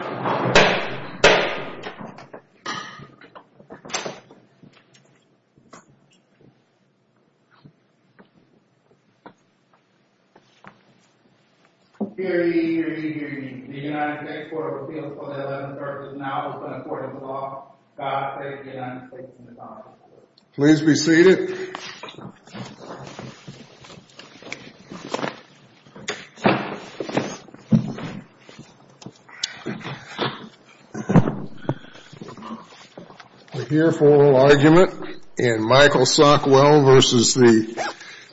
The United States Court of Appeals for the 11th Circuit is now open in court of law. God save the United States from the dark. Please be seated. We're here for oral argument in Michael Sockwell v.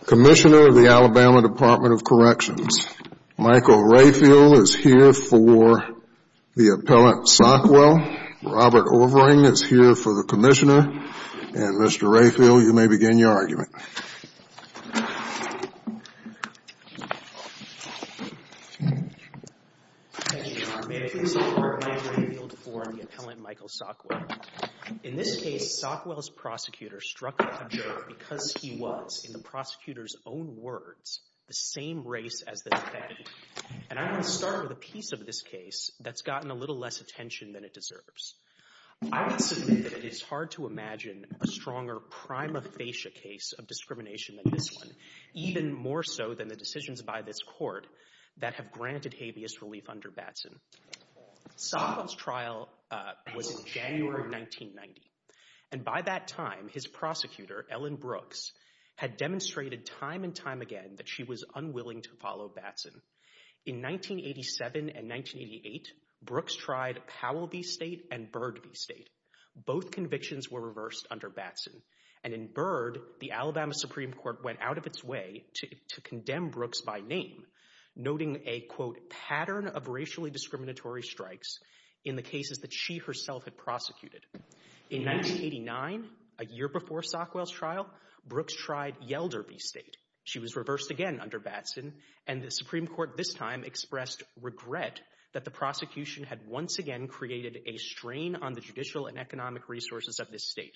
Commissioner, Alabama Department of Corrections. Michael Rayfield is here for the appellant Sockwell. Robert Overing is here for the Commissioner. And, Mr. Rayfield, you may begin your argument. Thank you, Your Honor. May it please the Court, I am Rayfield for the appellant Michael Sockwell. In this case, Sockwell's prosecutor struck a jerk because he was, in the prosecutor's own words, the same race as the defendant. And I'm going to start with a piece of this case that's gotten a little less attention than it deserves. I would submit that it is hard to imagine a stronger prima facie case of discrimination than this one, even more so than the decisions by this court that have granted habeas relief under Batson. Sockwell's trial was in January of 1990. And by that time, his prosecutor, Ellen Brooks, had demonstrated time and time again that she was unwilling to follow Batson. In 1987 and 1988, Brooks tried Powell v. State and Byrd v. State. Both convictions were reversed under Batson. And in Byrd, the Alabama Supreme Court went out of its way to condemn Brooks by name, noting a, quote, pattern of racially discriminatory strikes in the cases that she herself had prosecuted. In 1989, a year before Sockwell's trial, Brooks tried Yelder v. State. She was reversed again under Batson, and the Supreme Court this time expressed regret that the prosecution had once again created a strain on the judicial and economic resources of this state.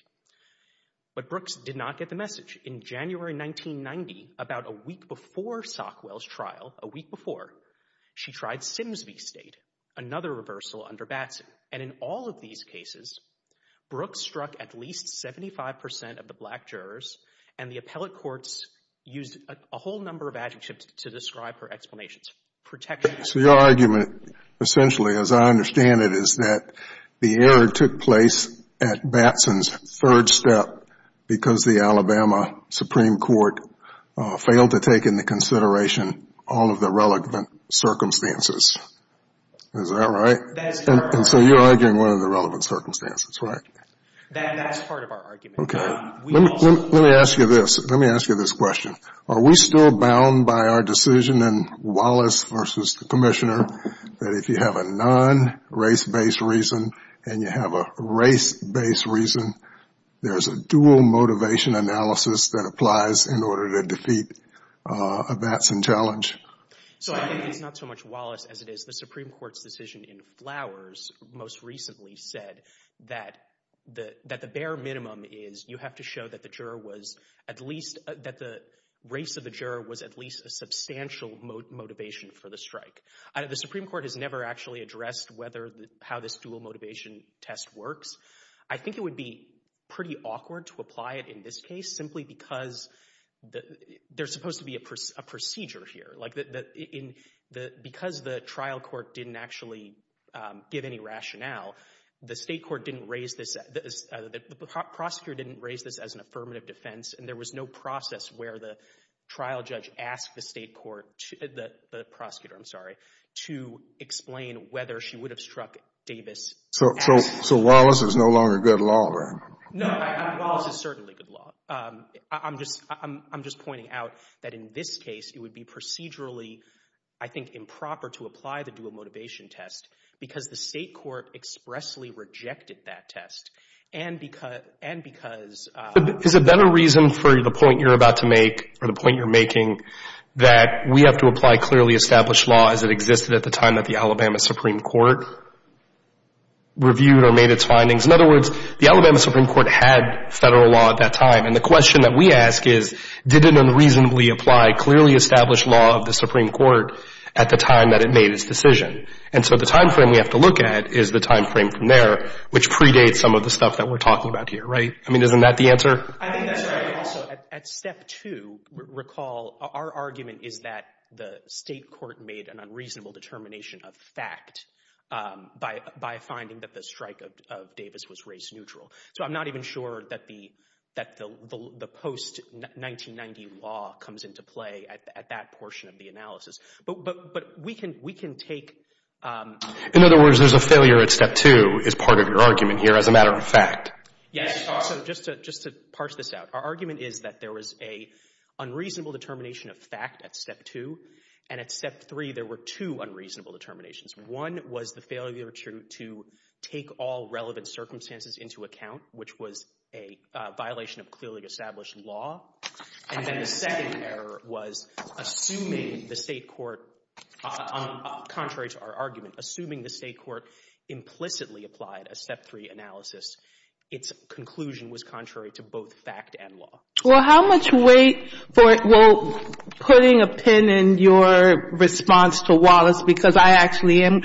But Brooks did not get the message. In January 1990, about a week before Sockwell's trial, a week before, she tried Sims v. State, another reversal under Batson. And in all of these cases, Brooks struck at least 75 percent of the black jurors, and the appellate courts used a whole number of adjectives to describe her explanations. So your argument, essentially, as I understand it, is that the error took place at Batson's third step because the Alabama Supreme Court failed to take into consideration all of the relevant circumstances. Is that right? And so you're arguing one of the relevant circumstances, right? That's part of our argument. Okay. Let me ask you this. Let me ask you this question. Are we still bound by our decision in Wallace v. Commissioner that if you have a non-race-based reason and you have a race-based reason, there's a dual motivation analysis that applies in order to defeat a Batson challenge? So I think it's not so much Wallace as it is the Supreme Court's decision in Flowers most recently said that the bare minimum is you have to show that the race of the juror was at least a substantial motivation for the strike. The Supreme Court has never actually addressed how this dual motivation test works. I think it would be pretty awkward to apply it in this case simply because there's supposed to be a procedure here. Like because the trial court didn't actually give any rationale, the state court didn't raise this, the prosecutor didn't raise this as an affirmative defense and there was no process where the trial judge asked the state court, the prosecutor, I'm sorry, to explain whether she would have struck Davis. So Wallace is no longer good law, right? No, Wallace is certainly good law. I'm just pointing out that in this case it would be procedurally, I think, improper to apply the dual motivation test because the state court expressly rejected that test and because— Is it better reason for the point you're about to make or the point you're making that we have to apply clearly established law as it existed at the time that the Alabama Supreme Court reviewed or made its findings? In other words, the Alabama Supreme Court had Federal law at that time and the question that we ask is did it unreasonably apply clearly established law of the Supreme Court at the time that it made its decision? And so the timeframe we have to look at is the timeframe from there which predates some of the stuff that we're talking about here, right? I mean, isn't that the answer? I think that's right. Also, at step two, recall our argument is that the state court made an unreasonable determination of fact by finding that the strike of Davis was race neutral. So I'm not even sure that the post-1990 law comes into play at that portion of the analysis. But we can take— In other words, there's a failure at step two as part of your argument here as a matter of fact. Yes. Also, just to parse this out, our argument is that there was an unreasonable determination of fact at step two and at step three there were two unreasonable determinations. One was the failure to take all relevant circumstances into account, which was a violation of clearly established law. And then the second error was assuming the state court—contrary to our argument— assuming the state court implicitly applied a step three analysis, its conclusion was contrary to both fact and law. Well, how much weight—well, putting a pin in your response to Wallace because I actually am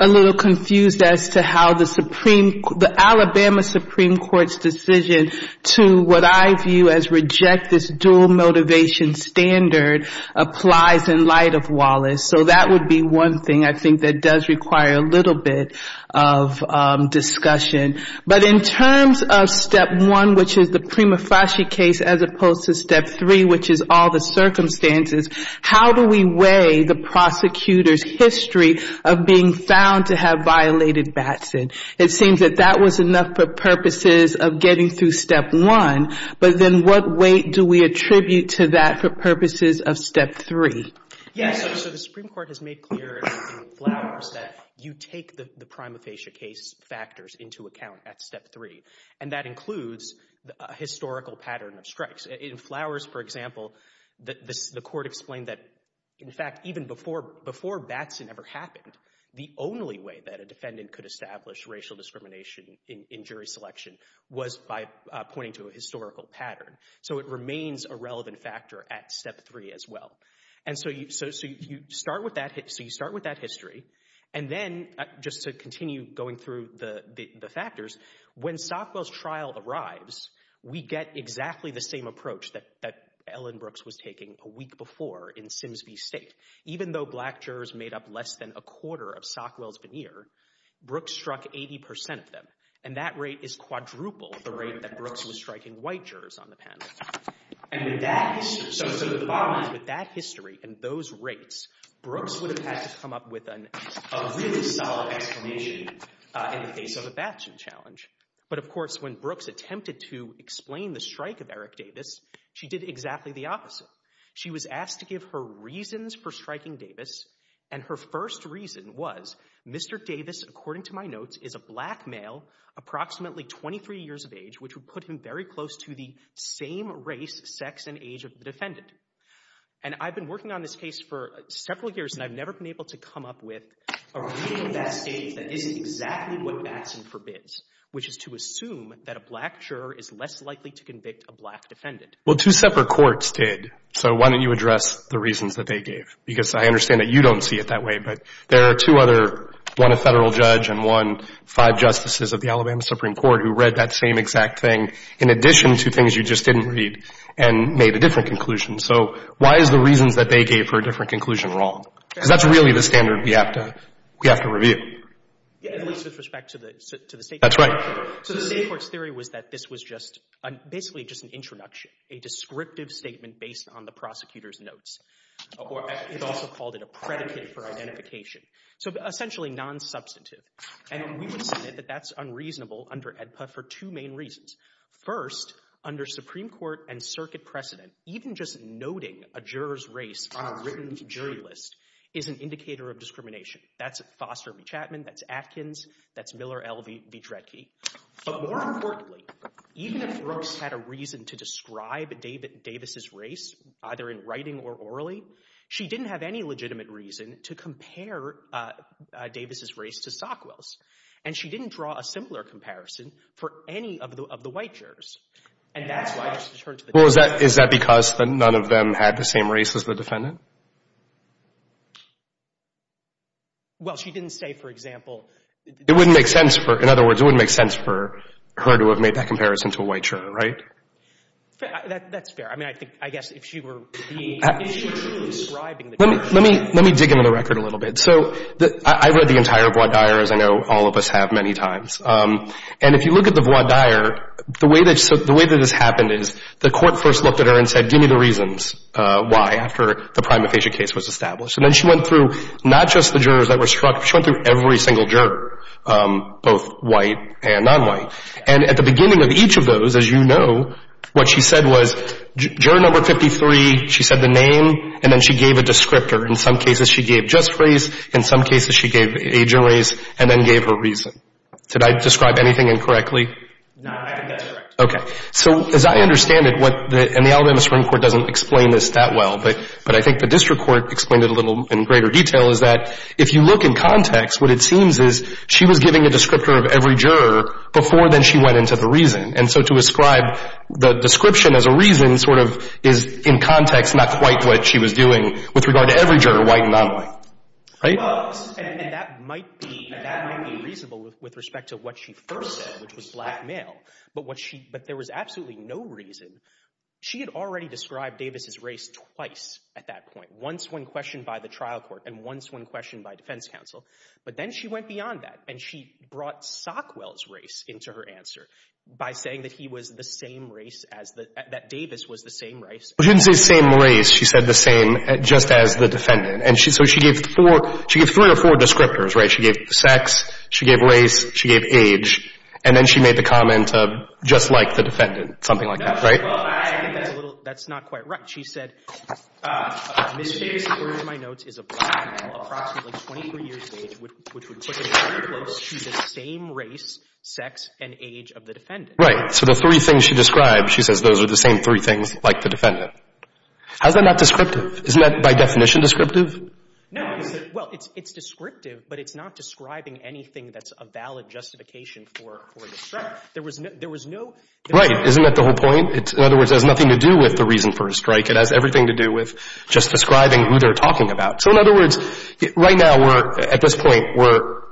a little confused as to how the Alabama Supreme Court's decision to what I view as reject this dual motivation standard applies in light of Wallace. So that would be one thing I think that does require a little bit of discussion. But in terms of step one, which is the Prima Fasci case, as opposed to step three, which is all the circumstances, how do we weigh the prosecutor's history of being found to have violated Batson? It seems that that was enough for purposes of getting through step one, but then what weight do we attribute to that for purposes of step three? Yes. So the Supreme Court has made clear in Flowers that you take the Prima Fasci case factors into account at step three, and that includes a historical pattern of strikes. In Flowers, for example, the court explained that, in fact, even before Batson ever happened, the only way that a defendant could establish racial discrimination in jury selection was by pointing to a historical pattern. So it remains a relevant factor at step three as well. And so you start with that history, and then just to continue going through the factors, when Sockwell's trial arrives, we get exactly the same approach that Ellen Brooks was taking a week before in Sims v. State. Even though black jurors made up less than a quarter of Sockwell's veneer, Brooks struck 80 percent of them, and that rate is quadruple the rate that Brooks was striking white jurors on the panel. So the bottom line is, with that history and those rates, Brooks would have had to come up with a really solid explanation in the case of a Batson challenge. But, of course, when Brooks attempted to explain the strike of Eric Davis, she did exactly the opposite. She was asked to give her reasons for striking Davis, and her first reason was, Mr. Davis, according to my notes, is a black male, approximately 23 years of age, which would put him very close to the same race, sex, and age of the defendant. And I've been working on this case for several years, and I've never been able to come up with a reason at that stage that isn't exactly what Batson forbids, which is to assume that a black juror is less likely to convict a black defendant. Well, two separate courts did, so why don't you address the reasons that they gave? Because I understand that you don't see it that way, but there are two other, one a Federal judge and one five justices of the Alabama Supreme Court who read that same exact thing in addition to things you just didn't read and made a different conclusion. So why is the reasons that they gave for a different conclusion wrong? Because that's really the standard we have to review. At least with respect to the State court. That's right. So the State court's theory was that this was just basically just an introduction, a descriptive statement based on the prosecutor's notes. It also called it a predicate for identification. So essentially nonsubstantive. And we would say that that's unreasonable under AEDPA for two main reasons. First, under Supreme Court and circuit precedent, even just noting a juror's race on a written jury list is an indicator of discrimination. That's Foster v. Chapman. That's Atkins. That's Miller v. Dredge. But more importantly, even if Brooks had a reason to describe Davis' race, either in writing or orally, she didn't have any legitimate reason to compare Davis' race to Sockwell's. And she didn't draw a similar comparison for any of the white jurors. And that's why I just returned to the definition. Is that because none of them had the same race as the defendant? Well, she didn't say, for example. In other words, it wouldn't make sense for her to have made that comparison to a white juror, right? That's fair. I mean, I guess if she were to be describing the jurors. Let me dig into the record a little bit. So I read the entire voir dire, as I know all of us have many times. And if you look at the voir dire, the way that this happened is the court first looked at her and said, give me the reasons why, after the prima facie case was established. And then she went through not just the jurors that were struck. She went through every single juror, both white and nonwhite. And at the beginning of each of those, as you know, what she said was, juror number 53, she said the name, and then she gave a descriptor. In some cases, she gave just race. In some cases, she gave age of race and then gave her reason. Did I describe anything incorrectly? No, I think that's correct. Okay. So as I understand it, and the Alabama Supreme Court doesn't explain this that well, but I think the district court explained it a little in greater detail, is that if you look in context, what it seems is she was giving a descriptor of every juror before then she went into the reason. And so to ascribe the description as a reason sort of is, in context, not quite what she was doing with regard to every juror, white and nonwhite. Right? Well, and that might be reasonable with respect to what she first said, which was black male. But there was absolutely no reason. She had already described Davis's race twice at that point, once when questioned by the trial court and once when questioned by defense counsel. But then she went beyond that, and she brought Sockwell's race into her answer by saying that he was the same race, that Davis was the same race. She didn't say same race. She said the same just as the defendant. And so she gave three or four descriptors. Right? She gave sex. She gave race. She gave age. And then she made the comment of just like the defendant, something like that. Right? That's not quite right. She said, Ms. Davis, according to my notes, is a black male, approximately 23 years of age, which would put her very close to the same race, sex, and age of the defendant. Right. So the three things she described, she says those are the same three things like the defendant. How is that not descriptive? Isn't that by definition descriptive? No. Well, it's descriptive, but it's not describing anything that's a valid justification for this. There was no – Right. Isn't that the whole point? In other words, it has nothing to do with the reason for a strike. It has everything to do with just describing who they're talking about. So in other words, right now we're – at this point we're –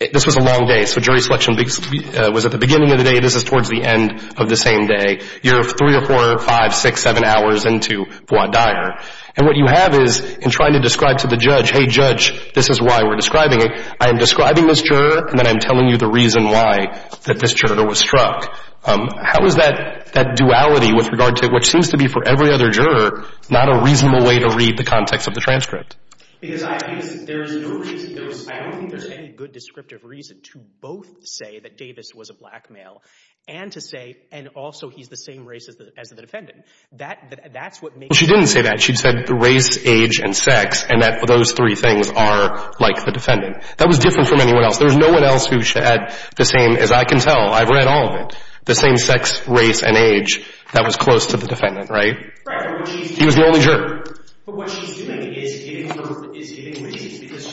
this was a long day. So jury selection was at the beginning of the day. This is towards the end of the same day. You're three or four, five, six, seven hours into voir dire. And what you have is in trying to describe to the judge, hey, judge, this is why we're describing it. I am describing this juror, and then I'm telling you the reason why that this juror was struck. How is that duality with regard to what seems to be for every other juror not a reasonable way to read the context of the transcript? Because I think there's no reason – I don't think there's any good descriptive reason to both say that Davis was a black male and to say – and also he's the same race as the defendant. That's what makes – Well, she didn't say that. She said race, age, and sex, and that those three things are like the defendant. That was different from anyone else. There was no one else who said the same, as I can tell. I've read all of it. The same sex, race, and age. That was close to the defendant, right? Right. He was the only juror. But what she's doing is giving reasons because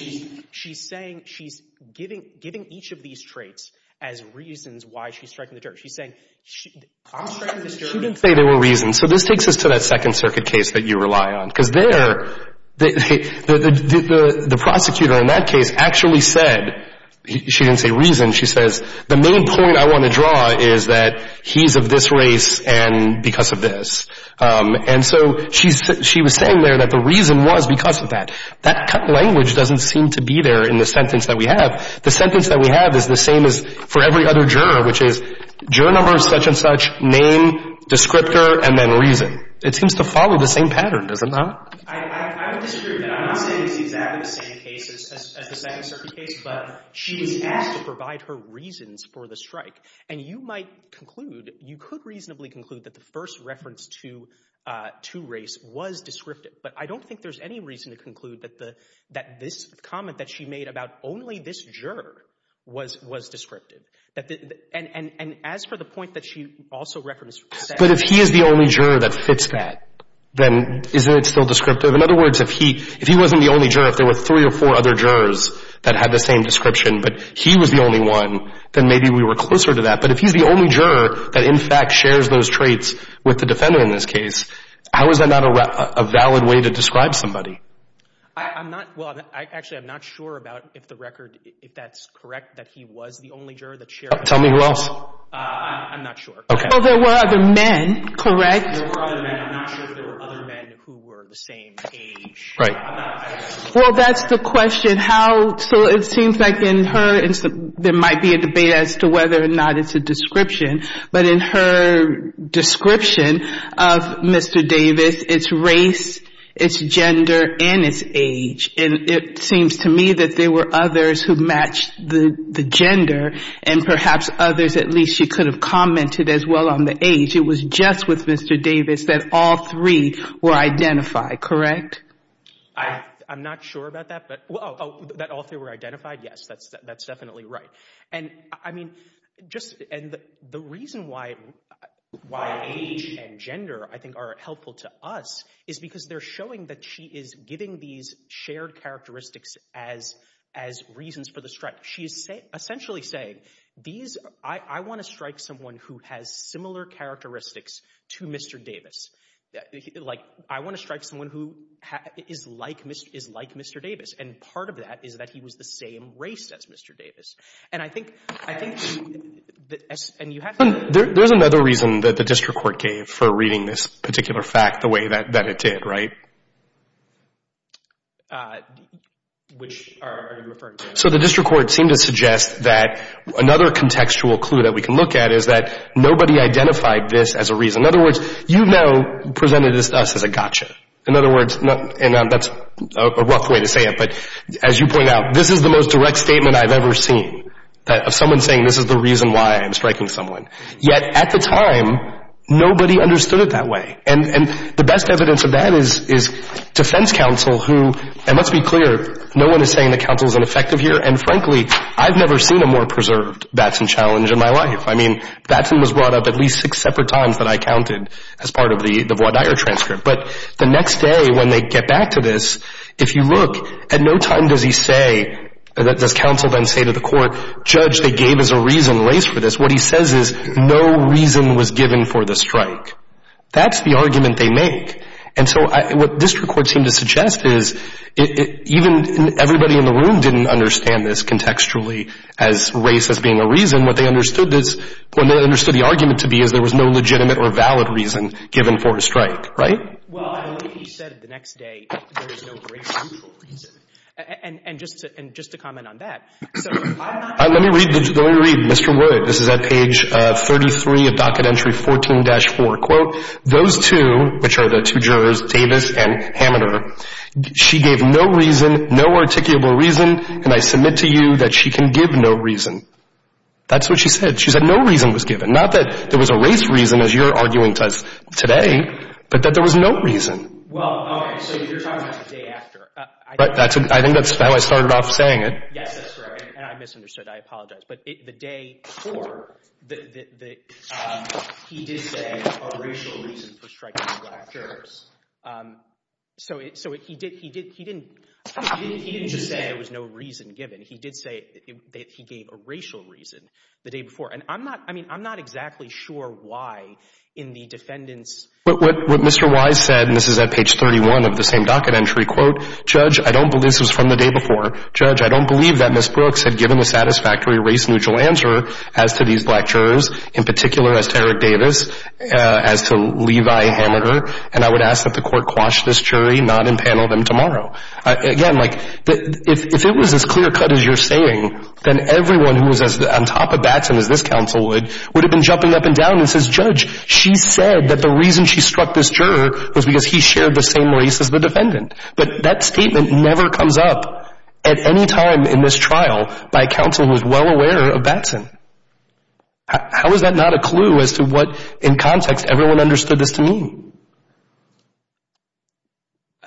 she's saying – she's giving each of these traits as reasons why she's striking the juror. She's saying, I'm striking this juror. She didn't say there were reasons. So this takes us to that Second Circuit case that you rely on because there, the prosecutor in that case actually said – she didn't say reason. She says, the main point I want to draw is that he's of this race and because of this. And so she was saying there that the reason was because of that. That language doesn't seem to be there in the sentence that we have. The sentence that we have is the same as for every other juror, which is juror number, such and such, name, descriptor, and then reason. It seems to follow the same pattern, does it not? I would disagree with that. I'm not saying it's exactly the same case as the Second Circuit case, but she is asked to provide her reasons for the strike. And you might conclude, you could reasonably conclude that the first reference to race was descriptive. But I don't think there's any reason to conclude that this comment that she made about only this juror was descriptive. And as for the point that she also referenced – But if he is the only juror that fits that, then isn't it still descriptive? In other words, if he wasn't the only juror, if there were three or four other jurors that had the same description, but he was the only one, then maybe we were closer to that. But if he's the only juror that in fact shares those traits with the defender in this case, how is that not a valid way to describe somebody? I'm not – well, actually, I'm not sure about if the record – if that's correct that he was the only juror that shared – Tell me who else. I'm not sure. Well, there were other men, correct? There were other men. I'm not sure if there were other men who were the same age. Right. Well, that's the question. How – so it seems like in her – there might be a debate as to whether or not it's a description. But in her description of Mr. Davis, it's race, it's gender, and it's age. And it seems to me that there were others who matched the gender, and perhaps others at least she could have commented as well on the age. It was just with Mr. Davis that all three were identified, correct? I'm not sure about that, but – oh, that all three were identified? Yes, that's definitely right. And, I mean, just – and the reason why age and gender, I think, are helpful to us is because they're showing that she is giving these shared characteristics as reasons for the strike. She is essentially saying these – I want to strike someone who has similar characteristics to Mr. Davis. Like, I want to strike someone who is like Mr. Davis, and part of that is that he was the same race as Mr. Davis. And I think – and you have to – There's another reason that the district court gave for reading this particular fact the way that it did, right? Which are you referring to? So the district court seemed to suggest that another contextual clue that we can look at is that nobody identified this as a reason. In other words, you now presented us as a gotcha. In other words – and that's a rough way to say it, but as you point out, this is the most direct statement I've ever seen of someone saying this is the reason why I'm striking someone. Yet, at the time, nobody understood it that way. And the best evidence of that is defense counsel who – and let's be clear, no one is saying the counsel is ineffective here. And, frankly, I've never seen a more preserved Batson challenge in my life. I mean, Batson was brought up at least six separate times that I counted as part of the voir dire transcript. But the next day, when they get back to this, if you look, at no time does he say – does counsel then say to the court, Judge, they gave us a reason, race, for this. What he says is no reason was given for the strike. That's the argument they make. And so what district court seemed to suggest is even everybody in the room didn't understand this contextually as race as being a reason. And what they understood is – what they understood the argument to be is there was no legitimate or valid reason given for a strike, right? Well, I believe he said the next day there is no great mutual reason. And just to – and just to comment on that. Let me read – let me read Mr. Wood. This is at page 33 of docket entry 14-4. Quote, those two, which are the two jurors, Davis and Hammeter, she gave no reason, no articulable reason, and I submit to you that she can give no reason. That's what she said. She said no reason was given. Not that there was a race reason, as you're arguing today, but that there was no reason. Well, okay. So you're talking about the day after. I think that's how I started off saying it. Yes, that's correct. And I misunderstood. I apologize. But the day before, he did say a racial reason for striking the black jurors. So he did – he didn't – he didn't just say there was no reason given. He did say that he gave a racial reason the day before. And I'm not – I mean, I'm not exactly sure why in the defendant's – But what Mr. Wise said, and this is at page 31 of the same docket entry, quote, Judge, I don't believe – this was from the day before. Judge, I don't believe that Ms. Brooks had given a satisfactory race-neutral answer as to these black jurors, in particular as to Eric Davis, as to Levi Hammeter, and I would ask that the court quash this jury, not impanel them tomorrow. Again, like, if it was as clear-cut as you're saying, then everyone who was on top of Batson as this counsel would, would have been jumping up and down and says, Judge, she said that the reason she struck this juror was because he shared the same race as the defendant. But that statement never comes up at any time in this trial by a counsel who is well aware of Batson. How is that not a clue as to what, in context, everyone understood this to mean?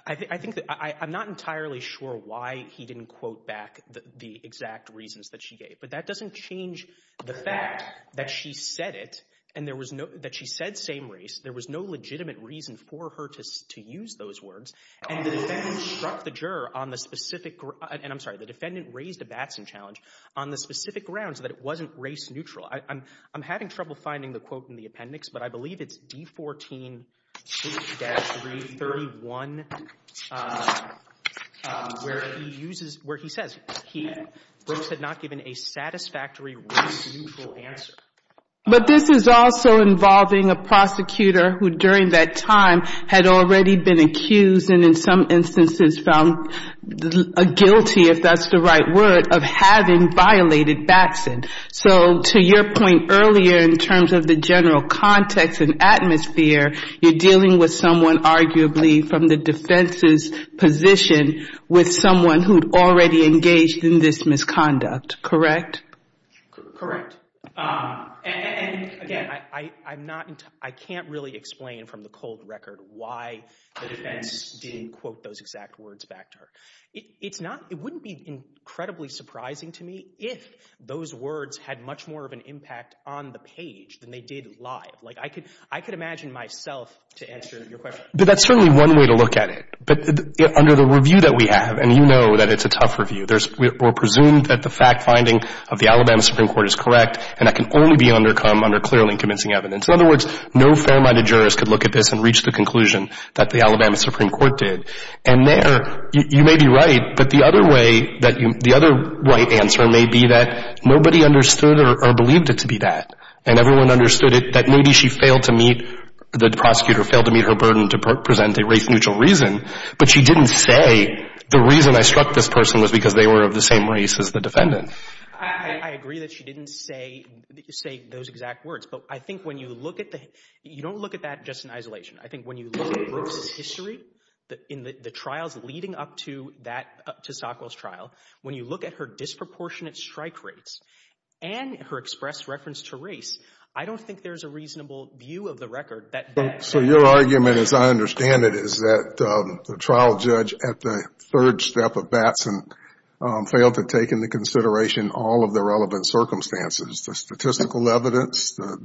I think that – I'm not entirely sure why he didn't quote back the exact reasons that she gave. But that doesn't change the fact that she said it and there was no – that she said same race. There was no legitimate reason for her to use those words. And the defendant struck the juror on the specific – and I'm sorry. The defendant raised a Batson challenge on the specific grounds that it wasn't race-neutral. I'm having trouble finding the quote in the appendix, but I believe it's D14-331 where he uses – where he says he had not given a satisfactory race-neutral answer. But this is also involving a prosecutor who, during that time, had already been accused and in some instances found guilty, if that's the right word, of having violated Batson. So to your point earlier in terms of the general context and atmosphere, you're dealing with someone arguably from the defense's position with someone who had already engaged in this misconduct, correct? Correct. And, again, I'm not – I can't really explain from the cold record why the defense didn't quote those exact words back to her. It's not – it wouldn't be incredibly surprising to me if those words had much more of an impact on the page than they did live. Like, I could imagine myself to answer your question. But that's certainly one way to look at it. But under the review that we have, and you know that it's a tough review, we're presumed that the fact-finding of the Alabama Supreme Court is correct and that can only be undercome under clearly convincing evidence. In other words, no fair-minded jurist could look at this and reach the conclusion that the Alabama Supreme Court did. And there, you may be right, but the other way – the other right answer may be that nobody understood or believed it to be that. And everyone understood that maybe she failed to meet – the prosecutor failed to meet her burden to present a race-neutral reason, but she didn't say the reason I struck this person was because they were of the same race as the defendant. I agree that she didn't say those exact words. But I think when you look at the – you don't look at that just in isolation. I think when you look at Brooks' history in the trials leading up to that – to Stockwell's trial, when you look at her disproportionate strike rates and her express reference to race, I don't think there's a reasonable view of the record that – So your argument, as I understand it, is that the trial judge at the third step of Batson failed to take into consideration all of the relevant circumstances, the statistical evidence, the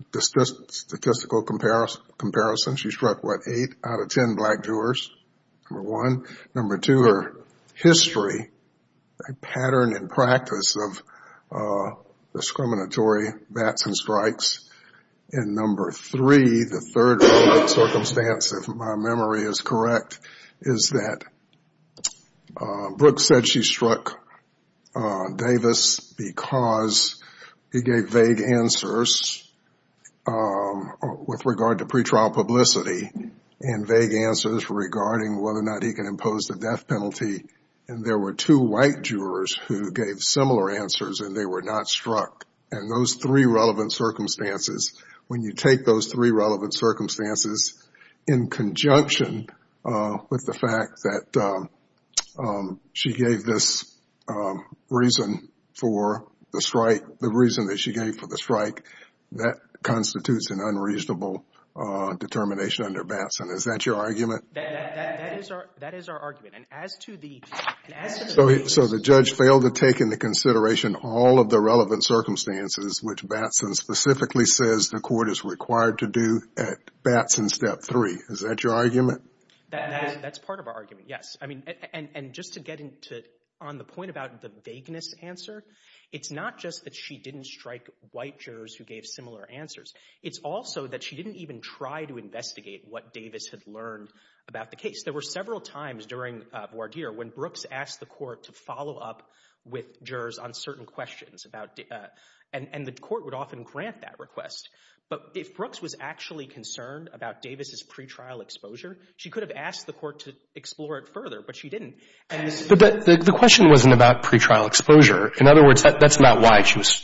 statistical comparison. She struck, what, eight out of ten black jurors, number one. Number two, her history, pattern and practice of discriminatory Batson strikes. And number three, the third relevant circumstance, if my memory is correct, is that Brooks said she struck Davis because he gave vague answers with regard to pretrial publicity and vague answers regarding whether or not he can impose the death penalty. And there were two white jurors who gave similar answers and they were not struck. And those three relevant circumstances, when you take those three relevant circumstances in conjunction with the fact that she gave this reason for the strike, the reason that she gave for the strike, that constitutes an unreasonable determination under Batson. Is that your argument? That is our argument. And as to the – So the judge failed to take into consideration all of the relevant circumstances, which Batson specifically says the court is required to do at Batson step three. Is that your argument? That's part of our argument, yes. And just to get on the point about the vagueness answer, it's not just that she didn't strike white jurors who gave similar answers. It's also that she didn't even try to investigate what Davis had learned about the case. There were several times during Bois d'Ire when Brooks asked the court to follow up with jurors on certain questions and the court would often grant that request. But if Brooks was actually concerned about Davis' pretrial exposure, she could have asked the court to explore it further, but she didn't. But the question wasn't about pretrial exposure. In other words, that's not why she was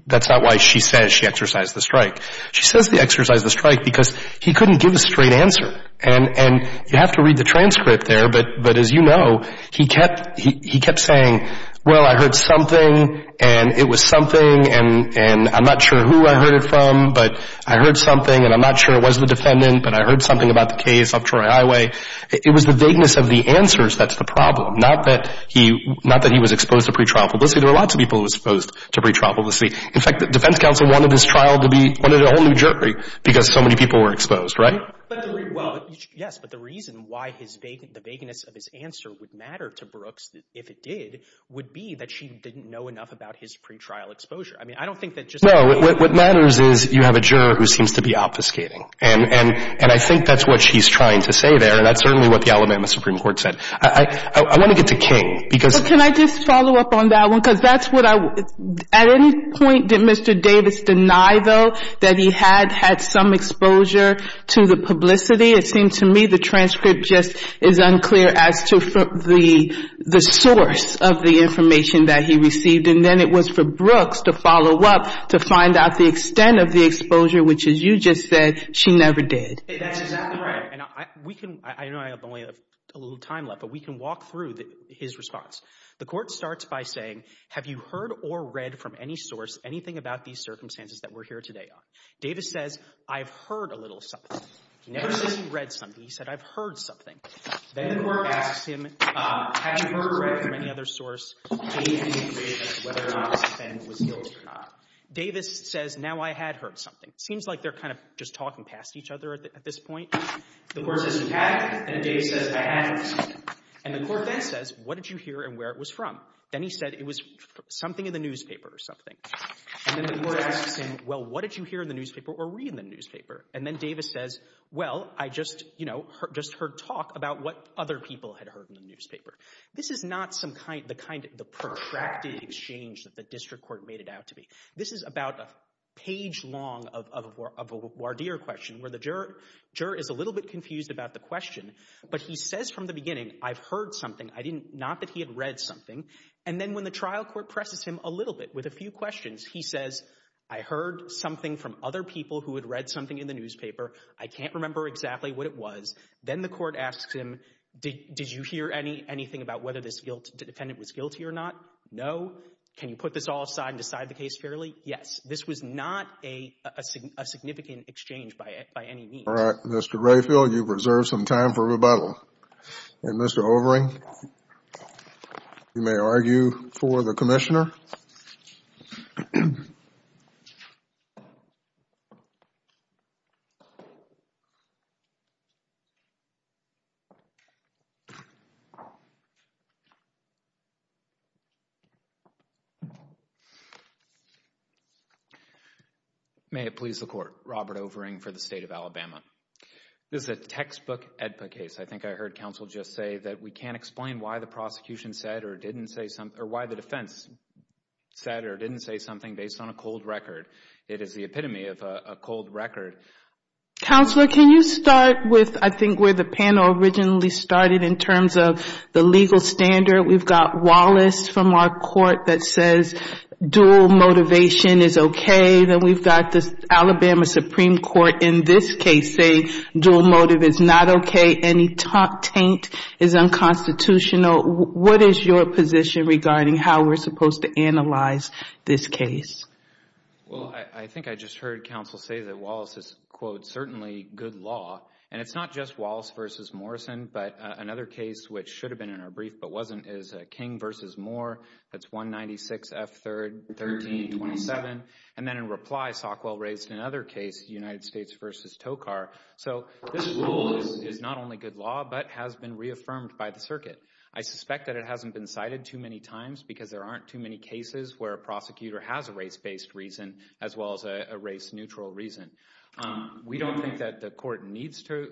– that's not why she says she exercised the strike. She says she exercised the strike because he couldn't give a straight answer. And you have to read the transcript there, but as you know, he kept saying, well, I heard something and it was something and I'm not sure who I heard it from, but I heard something and I'm not sure it was the defendant, but I heard something about the case of Troy Highway. It was the vagueness of the answers that's the problem, not that he was exposed to pretrial publicity. There were lots of people who were exposed to pretrial publicity. In fact, the defense counsel wanted his trial to be – wanted a whole new jury because so many people were exposed, right? Well, yes, but the reason why the vagueness of his answer would matter to Brooks, if it did, would be that she didn't know enough about his pretrial exposure. I mean, I don't think that just – No, what matters is you have a juror who seems to be obfuscating. And I think that's what she's trying to say there, and that's certainly what the Alabama Supreme Court said. I want to get to King because – Can I just follow up on that one? Because that's what I – at any point did Mr. Davis deny, though, that he had had some exposure to the publicity? It seemed to me the transcript just is unclear as to the source of the information that he received. And then it was for Brooks to follow up to find out the extent of the exposure, which, as you just said, she never did. That's exactly right. And we can – I know I only have a little time left, but we can walk through his response. The court starts by saying, have you heard or read from any source anything about these circumstances that we're here today on? Davis says, I've heard a little something. He never says he read something. He said, I've heard something. Then the court asks him, have you heard or read from any other source? Davis says, now I had heard something. It seems like they're kind of just talking past each other at this point. The court says, you had? And Davis says, I hadn't. And the court then says, what did you hear and where it was from? Then he said it was something in the newspaper or something. And then the court asks him, well, what did you hear in the newspaper or read in the newspaper? And then Davis says, well, I just heard talk about what other people had heard in the newspaper. This is not the kind of protracted exchange that the district court made it out to be. This is about a page long of a Wardeer question where the juror is a little bit confused about the question, but he says from the beginning, I've heard something. Not that he had read something. And then when the trial court presses him a little bit with a few questions, he says, I heard something from other people who had read something in the newspaper. I can't remember exactly what it was. Then the court asks him, did you hear anything about whether this defendant was guilty or not? No. Can you put this all aside and decide the case fairly? Yes. This was not a significant exchange by any means. All right. Mr. Rayfield, you've reserved some time for rebuttal. And Mr. Overing, you may argue for the commissioner. May it please the court. Robert Overing for the state of Alabama. This is a textbook AEDPA case. I think I heard counsel just say that we can't explain why the prosecution said or didn't say something, or why the defense said or didn't say something based on a cold record. It is the epitome of a cold record. Counselor, can you start with I think where the panel originally started in terms of the legal standard? We've got Wallace from our court that says dual motivation is okay. Then we've got the Alabama Supreme Court in this case saying dual motive is not okay. Any taint is unconstitutional. What is your position regarding how we're supposed to analyze this case? Well, I think I just heard counsel say that Wallace is, quote, certainly good law. And it's not just Wallace versus Morrison. But another case which should have been in our brief but wasn't is King versus Moore. That's 196 F3rd 1327. And then in reply, Sockwell raised another case, United States versus Tokar. So this rule is not only good law but has been reaffirmed by the circuit. I suspect that it hasn't been cited too many times because there aren't too many cases where a prosecutor has a race-based reason as well as a race-neutral reason. We don't think that the court needs to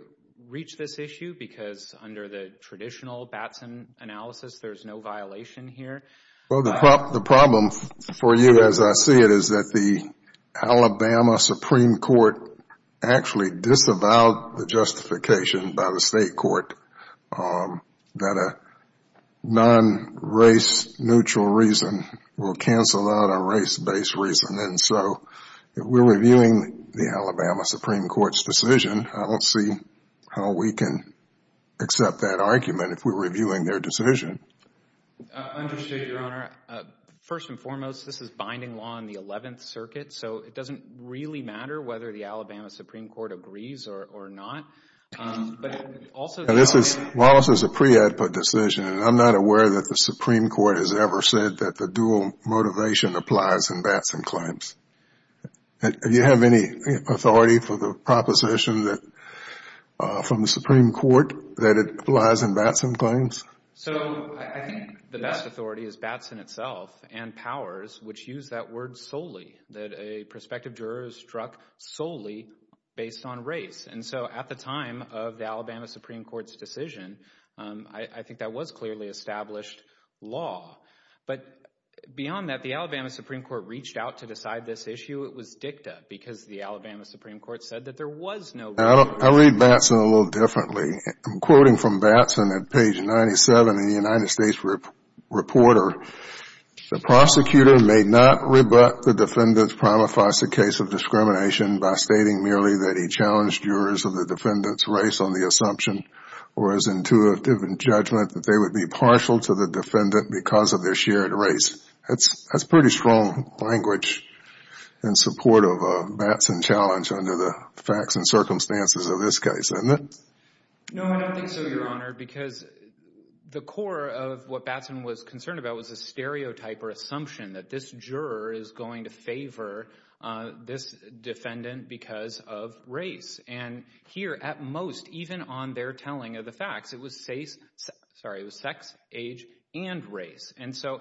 reach this issue because under the traditional Batson analysis, there's no violation here. Well, the problem for you as I see it is that the Alabama Supreme Court actually disavowed the justification by the state court that a non-race-neutral reason will cancel out a race-based reason. And so if we're reviewing the Alabama Supreme Court's decision, I don't see how we can accept that argument if we're reviewing their decision. I understand, Your Honor. First and foremost, this is binding law in the 11th Circuit, so it doesn't really matter whether the Alabama Supreme Court agrees or not. This is a pre-output decision, and I'm not aware that the Supreme Court has ever said that the dual motivation applies in Batson claims. Do you have any authority for the proposition from the Supreme Court that it applies in Batson claims? So I think the best authority is Batson itself and powers, which use that word solely, that a prospective juror is struck solely based on race. And so at the time of the Alabama Supreme Court's decision, I think that was clearly established law. But beyond that, the Alabama Supreme Court reached out to decide this issue. It was dicta because the Alabama Supreme Court said that there was no reason. I read Batson a little differently. I'm quoting from Batson at page 97 in the United States Reporter. The prosecutor may not rebut the defendant's prima facie case of discrimination by stating merely that he challenged jurors of the defendant's race on the assumption or his intuitive judgment that they would be partial to the defendant because of their shared race. That's pretty strong language in support of a Batson challenge under the facts and circumstances of this case. No, I don't think so, Your Honor, because the core of what Batson was concerned about was a stereotype or assumption that this juror is going to favor this defendant because of race. And here, at most, even on their telling of the facts, it was sex, age, and race. And so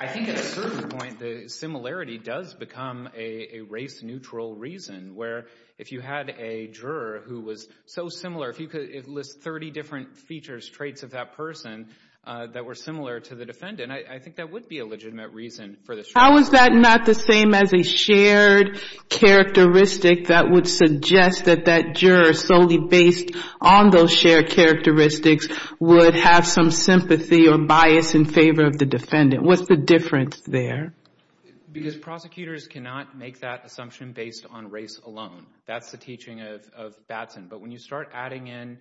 I think at a certain point the similarity does become a race-neutral reason where if you had a juror who was so similar, if you could list 30 different features, traits of that person that were similar to the defendant, I think that would be a legitimate reason for this juror. How is that not the same as a shared characteristic that would suggest that that juror, solely based on those shared characteristics, would have some sympathy or bias in favor of the defendant? What's the difference there? Because prosecutors cannot make that assumption based on race alone. That's the teaching of Batson. But when you start adding in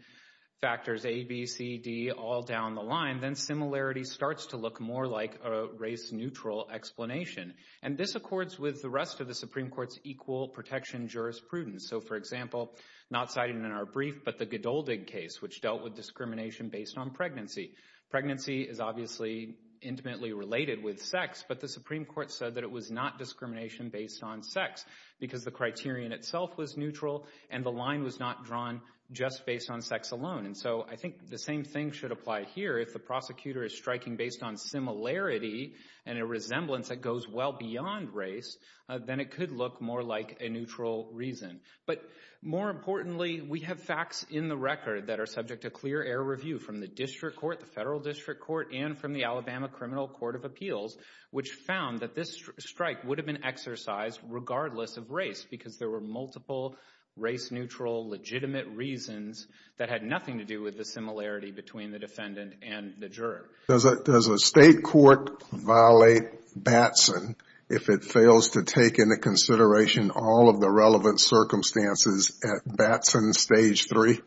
factors A, B, C, D, all down the line, then similarity starts to look more like a race-neutral explanation. And this accords with the rest of the Supreme Court's equal protection jurisprudence. So, for example, not cited in our brief, but the Godoldig case, which dealt with discrimination based on pregnancy. Pregnancy is obviously intimately related with sex, but the Supreme Court said that it was not discrimination based on sex because the criterion itself was neutral and the line was not drawn just based on sex alone. And so I think the same thing should apply here. If the prosecutor is striking based on similarity and a resemblance that goes well beyond race, then it could look more like a neutral reason. But more importantly, we have facts in the record that are subject to clear air review from the district court, the federal district court, and from the Alabama Criminal Court of Appeals, which found that this strike would have been exercised regardless of race because there were multiple race-neutral legitimate reasons that had nothing to do with the similarity between the defendant and the juror. Does a state court violate Batson if it fails to take into consideration all of the relevant circumstances at Batson Stage 3?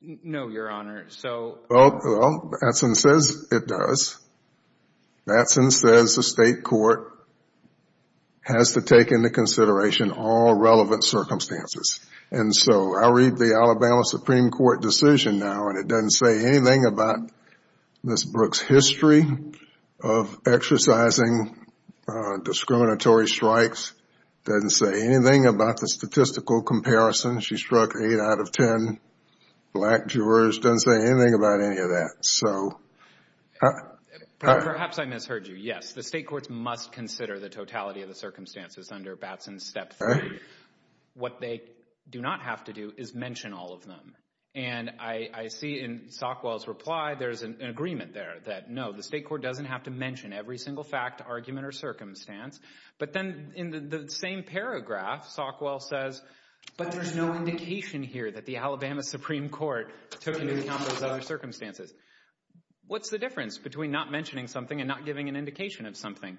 No, Your Honor. Well, Batson says it does. Batson says the state court has to take into consideration all relevant circumstances. And so I'll read the Alabama Supreme Court decision now, and it doesn't say anything about Ms. Brooks' history of exercising discriminatory strikes. It doesn't say anything about the statistical comparison. She struck 8 out of 10 black jurors. It doesn't say anything about any of that. Perhaps I misheard you. Yes, the state courts must consider the totality of the circumstances under Batson Step 3. What they do not have to do is mention all of them. And I see in Sockwell's reply there's an agreement there that, no, the state court doesn't have to mention every single fact, argument, or circumstance. But then in the same paragraph, Sockwell says, but there's no indication here that the Alabama Supreme Court took into account those other circumstances. What's the difference between not mentioning something and not giving an indication of something?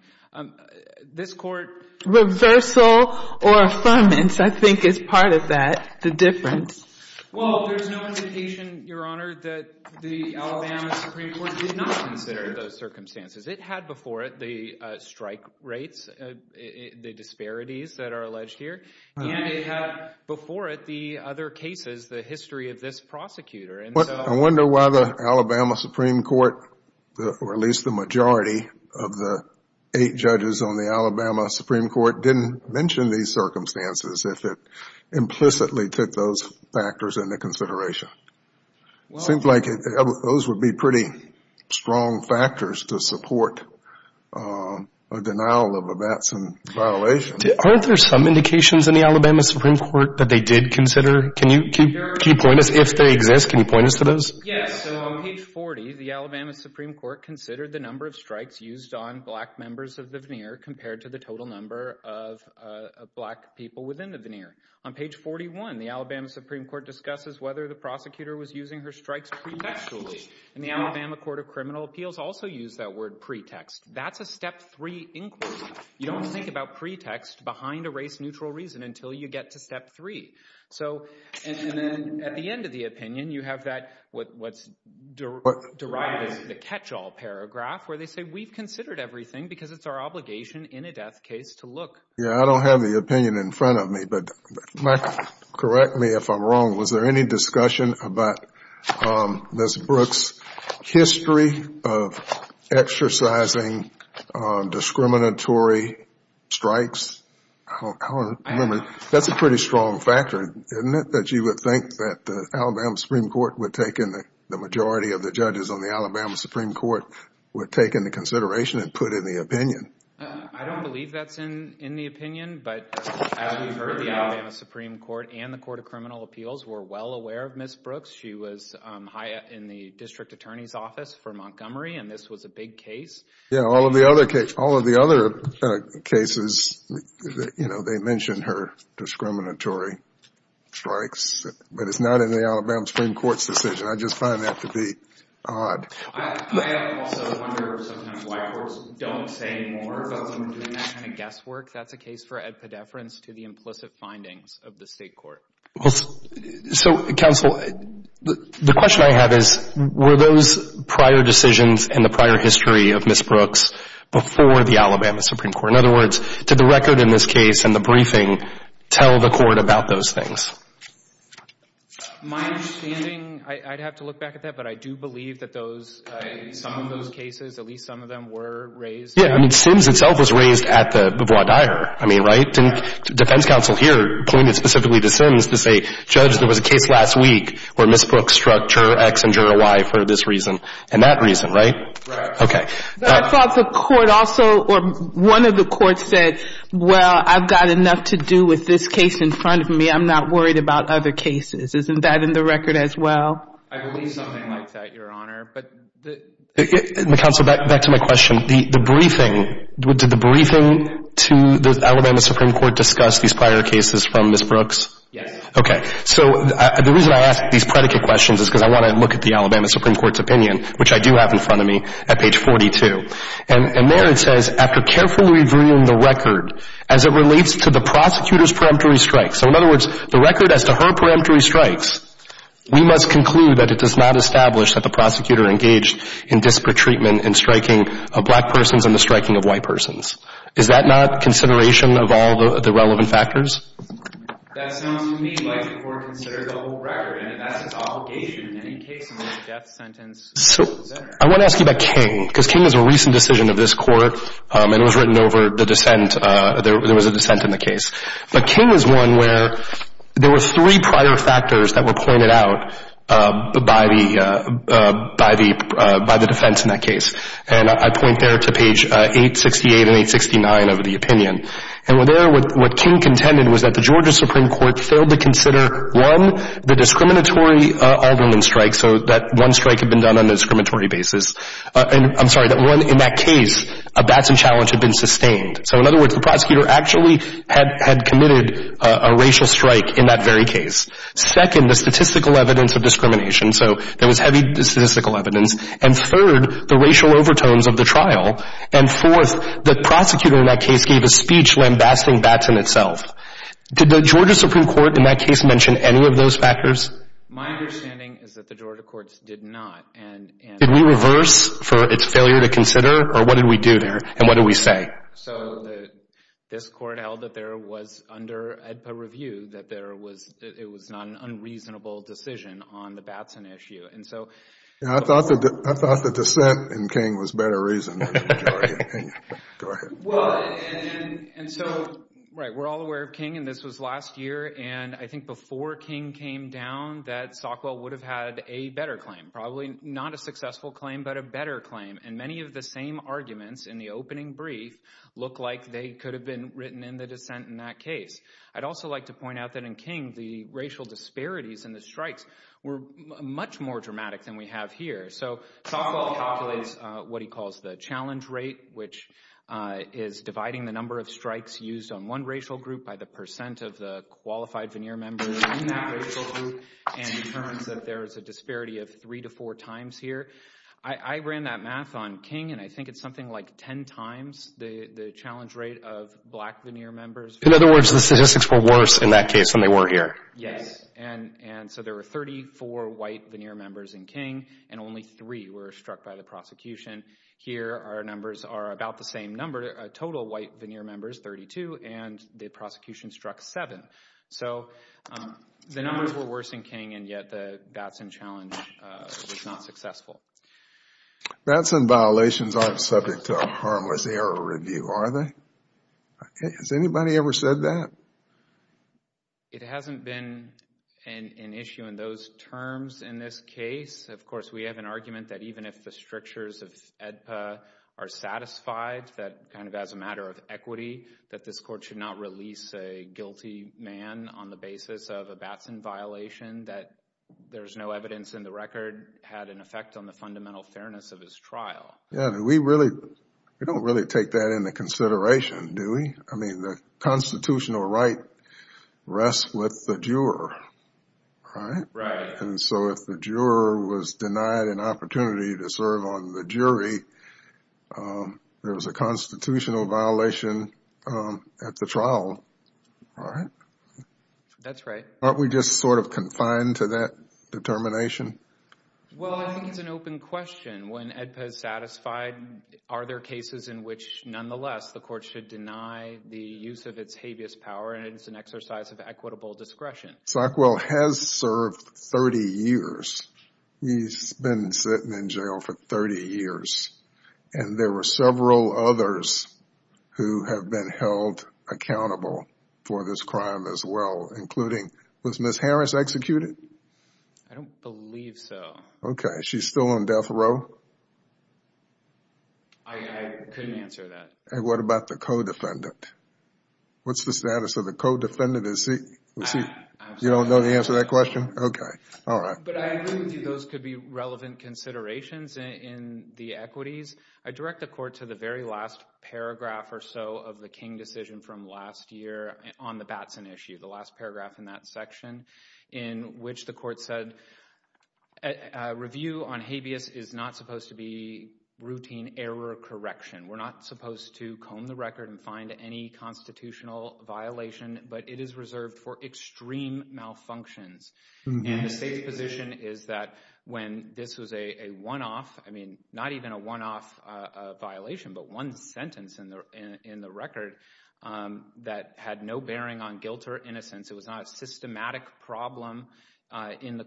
This Court reversal or affirmance, I think, is part of that, the difference. Well, there's no indication, Your Honor, that the Alabama Supreme Court did not consider those circumstances. It had before it the strike rates, the disparities that are alleged here, and it had before it the other cases, the history of this prosecutor. I wonder why the Alabama Supreme Court, or at least the majority of the eight judges on the Alabama Supreme Court, didn't mention these circumstances if it implicitly took those factors into consideration. It seems like those would be pretty strong factors to support a denial of a Batson violation. Aren't there some indications in the Alabama Supreme Court that they did consider? Can you point us, if they exist, can you point us to those? Yes, so on page 40, the Alabama Supreme Court considered the number of strikes used on black members of the veneer compared to the total number of black people within the veneer. On page 41, the Alabama Supreme Court discusses whether the prosecutor was using her strikes pretextually. And the Alabama Court of Criminal Appeals also used that word pretext. That's a step three inquiry. You don't think about pretext behind a race-neutral reason until you get to step three. So, and then at the end of the opinion, you have that, what's derived as the catch-all paragraph, where they say we've considered everything because it's our obligation in a death case to look. Yeah, I don't have the opinion in front of me, but correct me if I'm wrong. Was there any discussion about Ms. Brooks' history of exercising discriminatory strikes? I don't remember. That's a pretty strong factor, isn't it? That you would think that the Alabama Supreme Court would take in, the majority of the judges on the Alabama Supreme Court would take into consideration and put in the opinion. I don't believe that's in the opinion, but as we've heard, the Alabama Supreme Court and the Court of Criminal Appeals were well aware of Ms. Brooks. She was in the district attorney's office for Montgomery, and this was a big case. Yeah, all of the other cases, you know, they mention her discriminatory strikes, but it's not in the Alabama Supreme Court's decision. I just find that to be odd. I also wonder sometimes why courts don't say more about someone doing that kind of guesswork. That's a case for epidepherence to the implicit findings of the state court. So, counsel, the question I have is, were those prior decisions in the prior history of Ms. Brooks before the Alabama Supreme Court? In other words, did the record in this case and the briefing tell the court about those things? My understanding, I'd have to look back at that, but I do believe that those, some of those cases, at least some of them were raised. Yeah, I mean, Sims itself was raised at the Bois D'Ire, I mean, right? The defense counsel here pointed specifically to Sims to say, Judge, there was a case last week where Ms. Brooks struck juror X and juror Y for this reason and that reason, right? Right. Okay. I thought the court also, or one of the courts said, Well, I've got enough to do with this case in front of me. I'm not worried about other cases. Isn't that in the record as well? I believe something like that, Your Honor. Counsel, back to my question. The briefing, did the briefing to the Alabama Supreme Court discuss these prior cases from Ms. Brooks? Yes. Okay. So the reason I ask these predicate questions is because I want to look at the Alabama Supreme Court's opinion, which I do have in front of me at page 42. And there it says, After carefully reviewing the record as it relates to the prosecutor's preemptory strikes, so in other words, the record as to her preemptory strikes, we must conclude that it does not establish that the prosecutor engaged in disparate treatment in striking of black persons and the striking of white persons. Is that not consideration of all the relevant factors? That sounds to me like the court considered the whole record, and that's its obligation in any case in which a death sentence is considered. I want to ask you about King, because King is a recent decision of this court, and it was written over the dissent. There was a dissent in the case. But King is one where there were three prior factors that were pointed out by the defense in that case. And I point there to page 868 and 869 of the opinion. And there what King contended was that the Georgia Supreme Court failed to consider, one, the discriminatory alderman strikes, so that one strike had been done on a discriminatory basis. I'm sorry, that one, in that case, a Batson challenge had been sustained. So in other words, the prosecutor actually had committed a racial strike in that very case. Second, the statistical evidence of discrimination. So there was heavy statistical evidence. And third, the racial overtones of the trial. And fourth, the prosecutor in that case gave a speech lambasting Batson itself. Did the Georgia Supreme Court in that case mention any of those factors? My understanding is that the Georgia courts did not. Did we reverse for its failure to consider, or what did we do there, and what did we say? So this court held that there was, under AEDPA review, that there was, it was not an unreasonable decision on the Batson issue. And so— I thought the dissent in King was better reason than the majority. Go ahead. Well, and so, right, we're all aware of King, and this was last year, and I think before King came down that Sockwell would have had a better claim. Probably not a successful claim, but a better claim. And many of the same arguments in the opening brief look like they could have been written in the dissent in that case. I'd also like to point out that in King, the racial disparities in the strikes were much more dramatic than we have here. So Sockwell calculates what he calls the challenge rate, which is dividing the number of strikes used on one racial group by the percent of the qualified veneer members in that racial group and determines that there is a disparity of three to four times here. I ran that math on King, and I think it's something like ten times the challenge rate of black veneer members. In other words, the statistics were worse in that case than they were here. Yes. And so there were 34 white veneer members in King, and only three were struck by the prosecution. Here, our numbers are about the same number, total white veneer members, 32, and the prosecution struck seven. So the numbers were worse in King, and yet the Batson challenge was not successful. Batson violations aren't subject to a harmless error review, are they? Has anybody ever said that? It hasn't been an issue in those terms in this case. Of course, we have an argument that even if the strictures of AEDPA are satisfied, that kind of as a matter of equity, that this court should not release a guilty man on the basis of a Batson violation, that there's no evidence in the record had an effect on the fundamental fairness of his trial. We don't really take that into consideration, do we? I mean, the constitutional right rests with the juror, right? Right. And so if the juror was denied an opportunity to serve on the jury, there was a constitutional violation at the trial, right? That's right. Aren't we just sort of confined to that determination? Well, I think it's an open question. When AEDPA is satisfied, are there cases in which, nonetheless, the court should deny the use of its habeas power, and it is an exercise of equitable discretion? Sockwell has served 30 years. He's been sitting in jail for 30 years. And there were several others who have been held accountable for this crime as well, including, was Ms. Harris executed? I don't believe so. Okay. She's still on death row? I couldn't answer that. And what about the co-defendant? What's the status of the co-defendant? You don't know the answer to that question? Okay. All right. But I agree with you those could be relevant considerations in the equities. I direct the court to the very last paragraph or so of the King decision from last year on the Batson issue, the last paragraph in that section, in which the court said a review on habeas is not supposed to be routine error correction. We're not supposed to comb the record and find any constitutional violation, but it is reserved for extreme malfunctions. And the state's position is that when this was a one-off, I mean, not even a one-off violation, but one sentence in the record that had no bearing on guilt or innocence, it was not a systematic problem in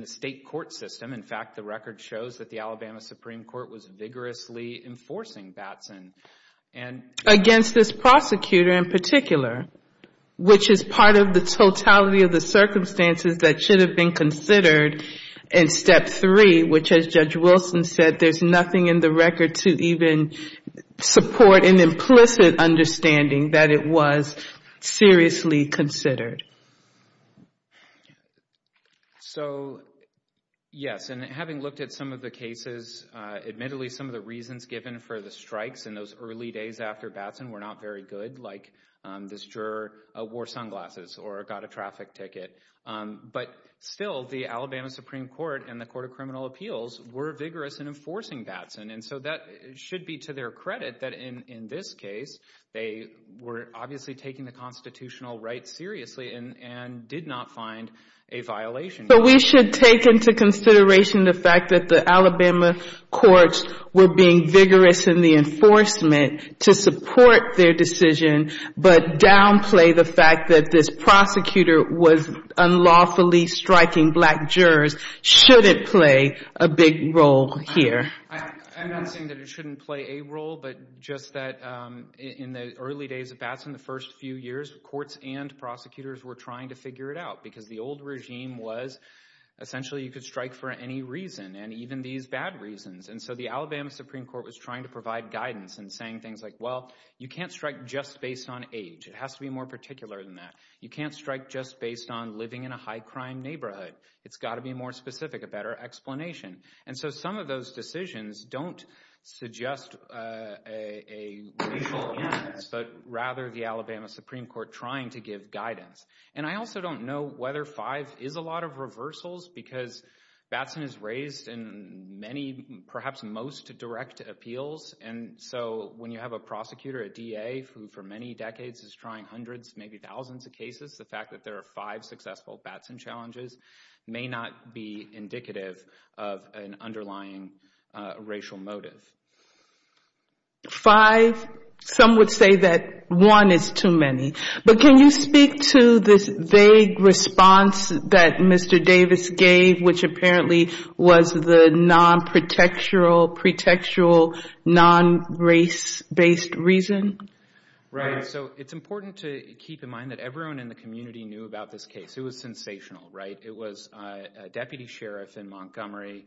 the state court system. In fact, the record shows that the Alabama Supreme Court was vigorously enforcing Batson. Against this prosecutor in particular, which is part of the totality of the circumstances that should have been considered in Step 3, which as Judge Wilson said, there's nothing in the record to even support an implicit understanding that it was seriously considered. So, yes. And having looked at some of the cases, admittedly, some of the reasons given for the strikes in those early days after Batson were not very good, like this juror wore sunglasses or got a traffic ticket. But still, the Alabama Supreme Court and the Court of Criminal Appeals were vigorous in enforcing Batson. And so that should be to their credit that in this case, they were obviously taking the constitutional rights seriously and did not find a violation. But we should take into consideration the fact that the Alabama courts were being vigorous in the enforcement to support their decision, but downplay the fact that this prosecutor was unlawfully striking black jurors shouldn't play a big role here. I'm not saying that it shouldn't play a role, but just that in the early days of Batson, the first few years, courts and prosecutors were trying to figure it out because the old regime was essentially you could strike for any reason, and even these bad reasons. And so the Alabama Supreme Court was trying to provide guidance and saying things like, well, you can't strike just based on age. It has to be more particular than that. You can't strike just based on living in a high-crime neighborhood. It's got to be more specific, a better explanation. And so some of those decisions don't suggest a racial imbalance, but rather the Alabama Supreme Court trying to give guidance. And I also don't know whether five is a lot of reversals because Batson is raised in many, perhaps most direct appeals, and so when you have a prosecutor, a DA, who for many decades is trying hundreds, maybe thousands of cases, the fact that there are five successful Batson challenges may not be indicative of an underlying racial motive. Five, some would say that one is too many. But can you speak to this vague response that Mr. Davis gave, which apparently was the non-protectural, pretextual, non-race-based reason? Right. So it's important to keep in mind that everyone in the community knew about this case. It was sensational, right? It was a deputy sheriff in Montgomery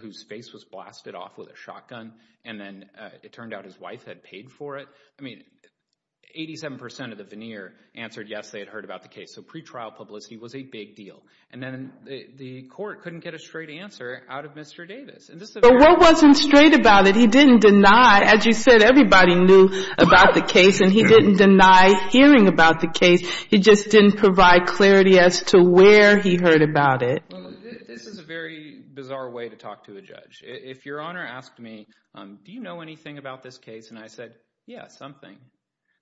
whose face was blasted off with a shotgun, and then it turned out his wife had paid for it. I mean, 87% of the veneer answered yes, they had heard about the case. So pretrial publicity was a big deal. And then the court couldn't get a straight answer out of Mr. Davis. But what wasn't straight about it? He didn't deny, as you said, everybody knew about the case, and he didn't deny hearing about the case. He just didn't provide clarity as to where he heard about it. This is a very bizarre way to talk to a judge. If Your Honor asked me, do you know anything about this case? And I said, yeah, something.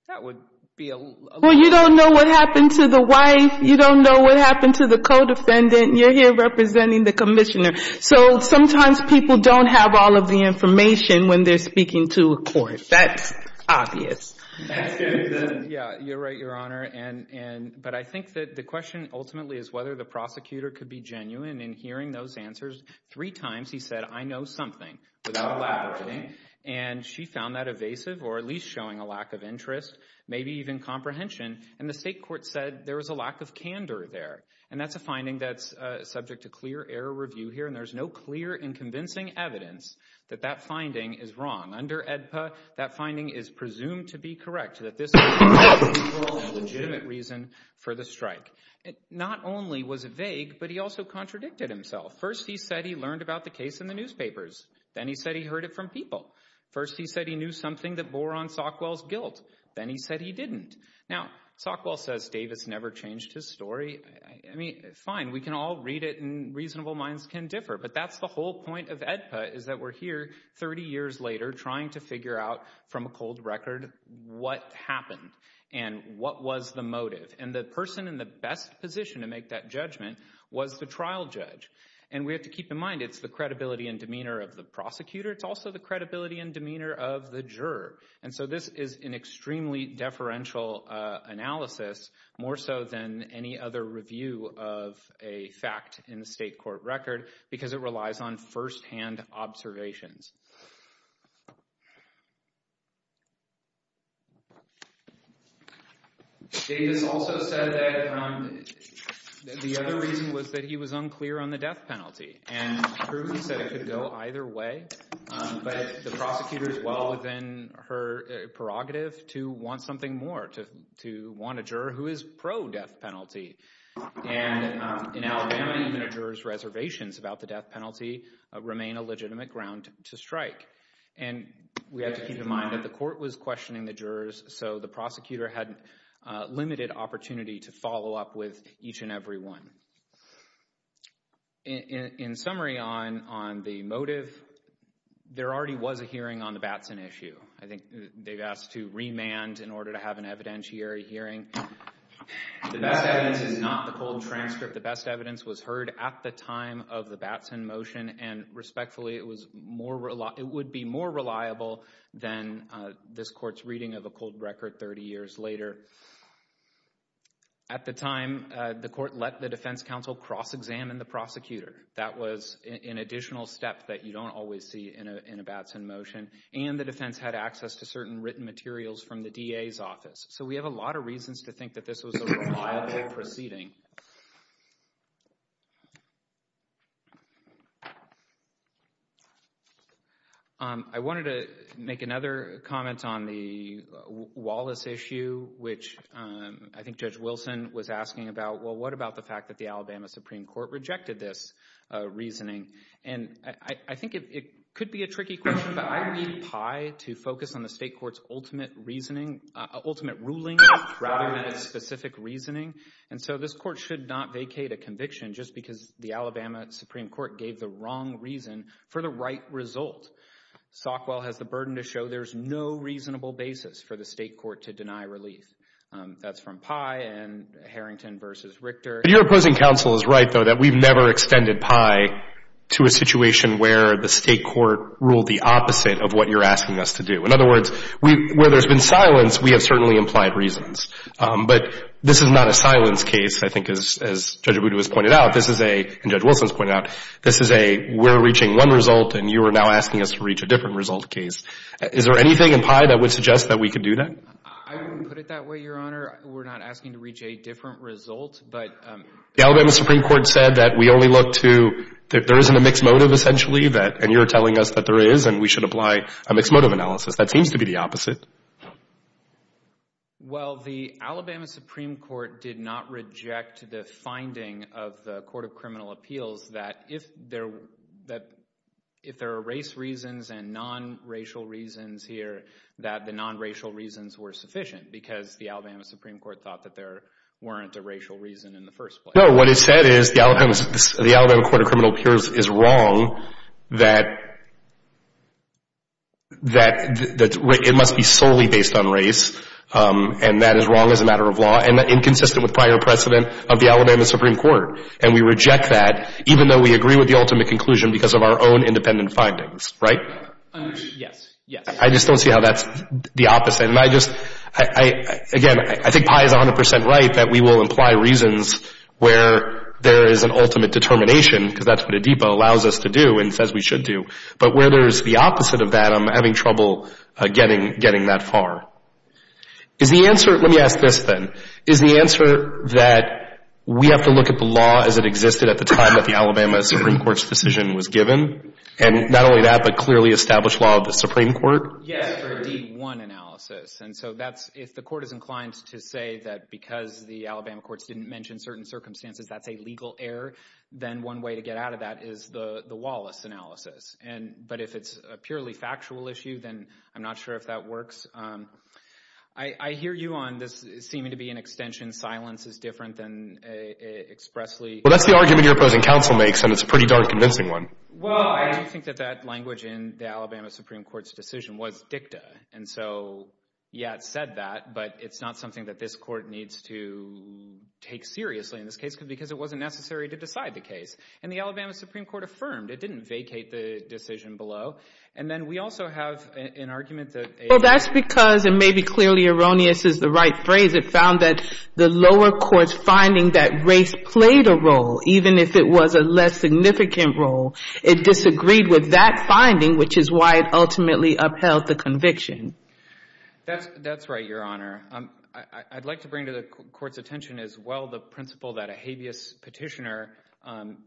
That would be a little. Well, you don't know what happened to the wife. You don't know what happened to the co-defendant. You're here representing the commissioner. So sometimes people don't have all of the information when they're speaking to a court. That's obvious. That's good. Yeah, you're right, Your Honor. But I think that the question ultimately is whether the prosecutor could be genuine in hearing those answers. Three times he said, I know something without elaborating. And she found that evasive or at least showing a lack of interest, maybe even comprehension. And the state court said there was a lack of candor there. And that's a finding that's subject to clear error review here, and there's no clear and convincing evidence that that finding is wrong. Under AEDPA, that finding is presumed to be correct, that this is a legitimate reason for the strike. Not only was it vague, but he also contradicted himself. First he said he learned about the case in the newspapers. Then he said he heard it from people. First he said he knew something that bore on Sockwell's guilt. Then he said he didn't. Now, Sockwell says Davis never changed his story. I mean, fine, we can all read it and reasonable minds can differ, but that's the whole point of AEDPA is that we're here 30 years later trying to figure out from a cold record what happened and what was the motive. And the person in the best position to make that judgment was the trial judge. And we have to keep in mind it's the credibility and demeanor of the prosecutor. It's also the credibility and demeanor of the juror. And so this is an extremely deferential analysis, more so than any other review of a fact in the state court record, because it relies on firsthand observations. Davis also said that the other reason was that he was unclear on the death penalty. And truly he said it could go either way. But the prosecutor is well within her prerogative to want something more, to want a juror who is pro-death penalty. And in Alabama, even a juror's reservations about the death penalty remain a legitimate ground to support. And we have to keep in mind that the court was questioning the jurors, so the prosecutor had limited opportunity to follow up with each and every one. In summary on the motive, there already was a hearing on the Batson issue. I think they've asked to remand in order to have an evidentiary hearing. The best evidence is not the cold transcript. The best evidence was heard at the time of the Batson motion, and respectfully, it would be more reliable than this court's reading of a cold record 30 years later. At the time, the court let the defense counsel cross-examine the prosecutor. That was an additional step that you don't always see in a Batson motion. And the defense had access to certain written materials from the DA's office. So we have a lot of reasons to think that this was a reliable proceeding. I wanted to make another comment on the Wallace issue, which I think Judge Wilson was asking about. Well, what about the fact that the Alabama Supreme Court rejected this reasoning? And I think it could be a tricky question, but I read Pye to focus on the state court's ultimate reasoning, ultimate ruling, rather than a specific reasoning. And so this court should not vacate a conviction just because the Alabama Supreme Court gave the wrong reason for the right result. Sockwell has the burden to show there's no reasonable basis for the state court to deny relief. That's from Pye and Harrington v. Richter. Your opposing counsel is right, though, that we've never extended Pye to a situation where the state court ruled the opposite of what you're asking us to do. In other words, where there's been silence, we have certainly implied reasons. But this is not a silence case, I think, as Judge Abudu has pointed out. This is a, and Judge Wilson has pointed out, this is a we're reaching one result and you are now asking us to reach a different result case. Is there anything in Pye that would suggest that we could do that? I wouldn't put it that way, Your Honor. We're not asking to reach a different result. The Alabama Supreme Court said that we only look to, that there isn't a mixed motive, essentially, and you're telling us that there is and we should apply a mixed motive analysis. That seems to be the opposite. Well, the Alabama Supreme Court did not reject the finding of the Court of Criminal Appeals that if there are race reasons and non-racial reasons here, that the non-racial reasons were sufficient because the Alabama Supreme Court thought that there weren't a racial reason in the first place. No, what it said is the Alabama Court of Criminal Appeals is wrong that it must be solely based on race and that is wrong as a matter of law and inconsistent with prior precedent of the Alabama Supreme Court. And we reject that even though we agree with the ultimate conclusion because of our own independent findings, right? Yes. I just don't see how that's the opposite. And I just, again, I think Pi is 100% right that we will imply reasons where there is an ultimate determination because that's what ADEPA allows us to do and says we should do. But where there's the opposite of that, I'm having trouble getting that far. Is the answer, let me ask this then, is the answer that we have to look at the law as it existed at the time that the Alabama Supreme Court's decision was given? And not only that, but clearly establish law of the Supreme Court? Yes, for a D1 analysis. And so that's if the court is inclined to say that because the Alabama courts didn't mention certain circumstances that's a legal error, then one way to get out of that is the Wallace analysis. But if it's a purely factual issue, then I'm not sure if that works. I hear you on this seeming to be an extension silence is different than expressly. Well, that's the argument your opposing counsel makes and it's a pretty darn convincing one. Well, I do think that that language in the Alabama Supreme Court's decision was dicta. And so, yeah, it said that, but it's not something that this court needs to take seriously in this case because it wasn't necessary to decide the case. And the Alabama Supreme Court affirmed. It didn't vacate the decision below. And then we also have an argument that a- Well, that's because it may be clearly erroneous is the right phrase. It found that the lower court's finding that race played a role, even if it was a less significant role. It disagreed with that finding, which is why it ultimately upheld the conviction. That's right, Your Honor. I'd like to bring to the court's attention as well the principle that a habeas petitioner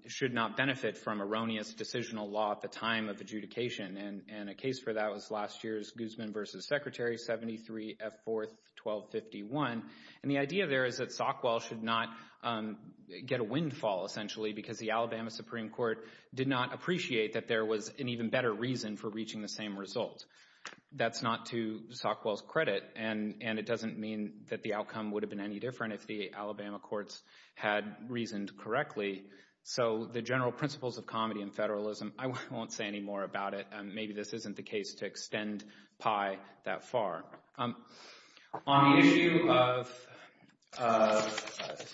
should not benefit from erroneous decisional law at the time of adjudication. And a case for that was last year's Guzman v. Secretary 73 F. 4th 1251. And the idea there is that Sockwell should not get a windfall, essentially, because the Alabama Supreme Court did not appreciate that there was an even better reason for reaching the same result. That's not to Sockwell's credit, and it doesn't mean that the outcome would have been any different if the Alabama courts had reasoned correctly. So the general principles of comedy and federalism, I won't say any more about it. Maybe this isn't the case to extend Pye that far. On the issue of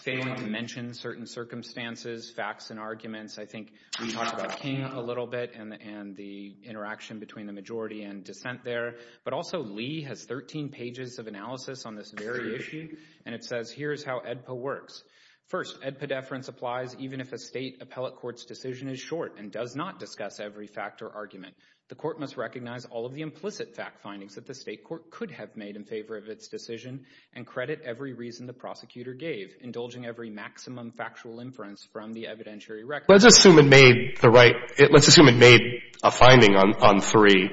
failing to mention certain circumstances, facts, and arguments, I think we talked about King a little bit and the interaction between the majority and dissent there. But also Lee has 13 pages of analysis on this very issue, and it says here's how AEDPA works. First, AEDPA deference applies even if a state appellate court's decision is short and does not discuss every fact or argument. The court must recognize all of the implicit fact findings that the state court could have made in favor of its decision and credit every reason the prosecutor gave, indulging every maximum factual inference from the evidentiary record. Let's assume it made a finding on three.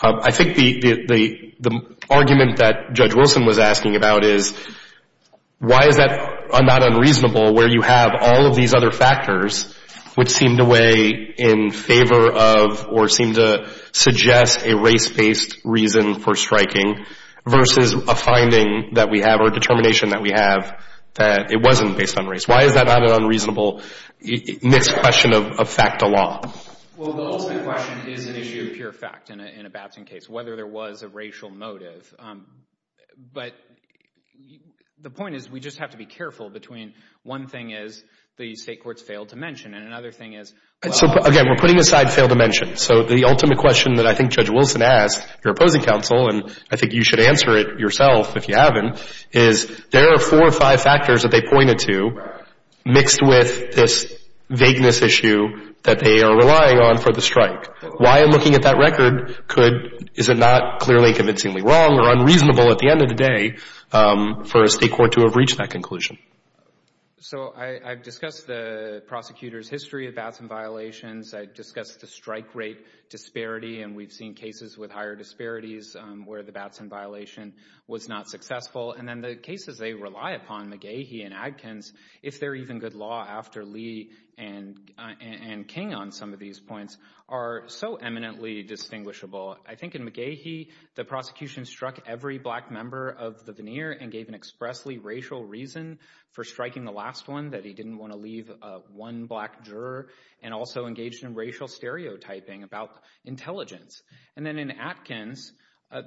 I think the argument that Judge Wilson was asking about is why is that not unreasonable where you have all of these other factors which seem to weigh in favor of or seem to suggest a race-based reason for striking versus a finding that we have or a determination that we have that it wasn't based on race. Why is that not an unreasonable mis-question of fact to law? Well, the ultimate question is an issue of pure fact in a Babson case, whether there was a racial motive. But the point is we just have to be careful between one thing is the state court's failed to mention and another thing is well. So, again, we're putting aside failed to mention. So the ultimate question that I think Judge Wilson asked your opposing counsel, and I think you should answer it yourself if you haven't, is there are four or five factors that they pointed to mixed with this vagueness issue that they are relying on for the strike. Why, in looking at that record, is it not clearly convincingly wrong or unreasonable at the end of the day for a state court to have reached that conclusion? So I've discussed the prosecutor's history of Babson violations. I've discussed the strike rate disparity, and we've seen cases with higher disparities where the Babson violation was not successful. And then the cases they rely upon, McGahee and Adkins, if they're even good law after Lee and King on some of these points, are so eminently distinguishable. I think in McGahee, the prosecution struck every black member of the veneer and gave an expressly racial reason for striking the last one, that he didn't want to leave one black juror, and also engaged in racial stereotyping about intelligence. And then in Adkins,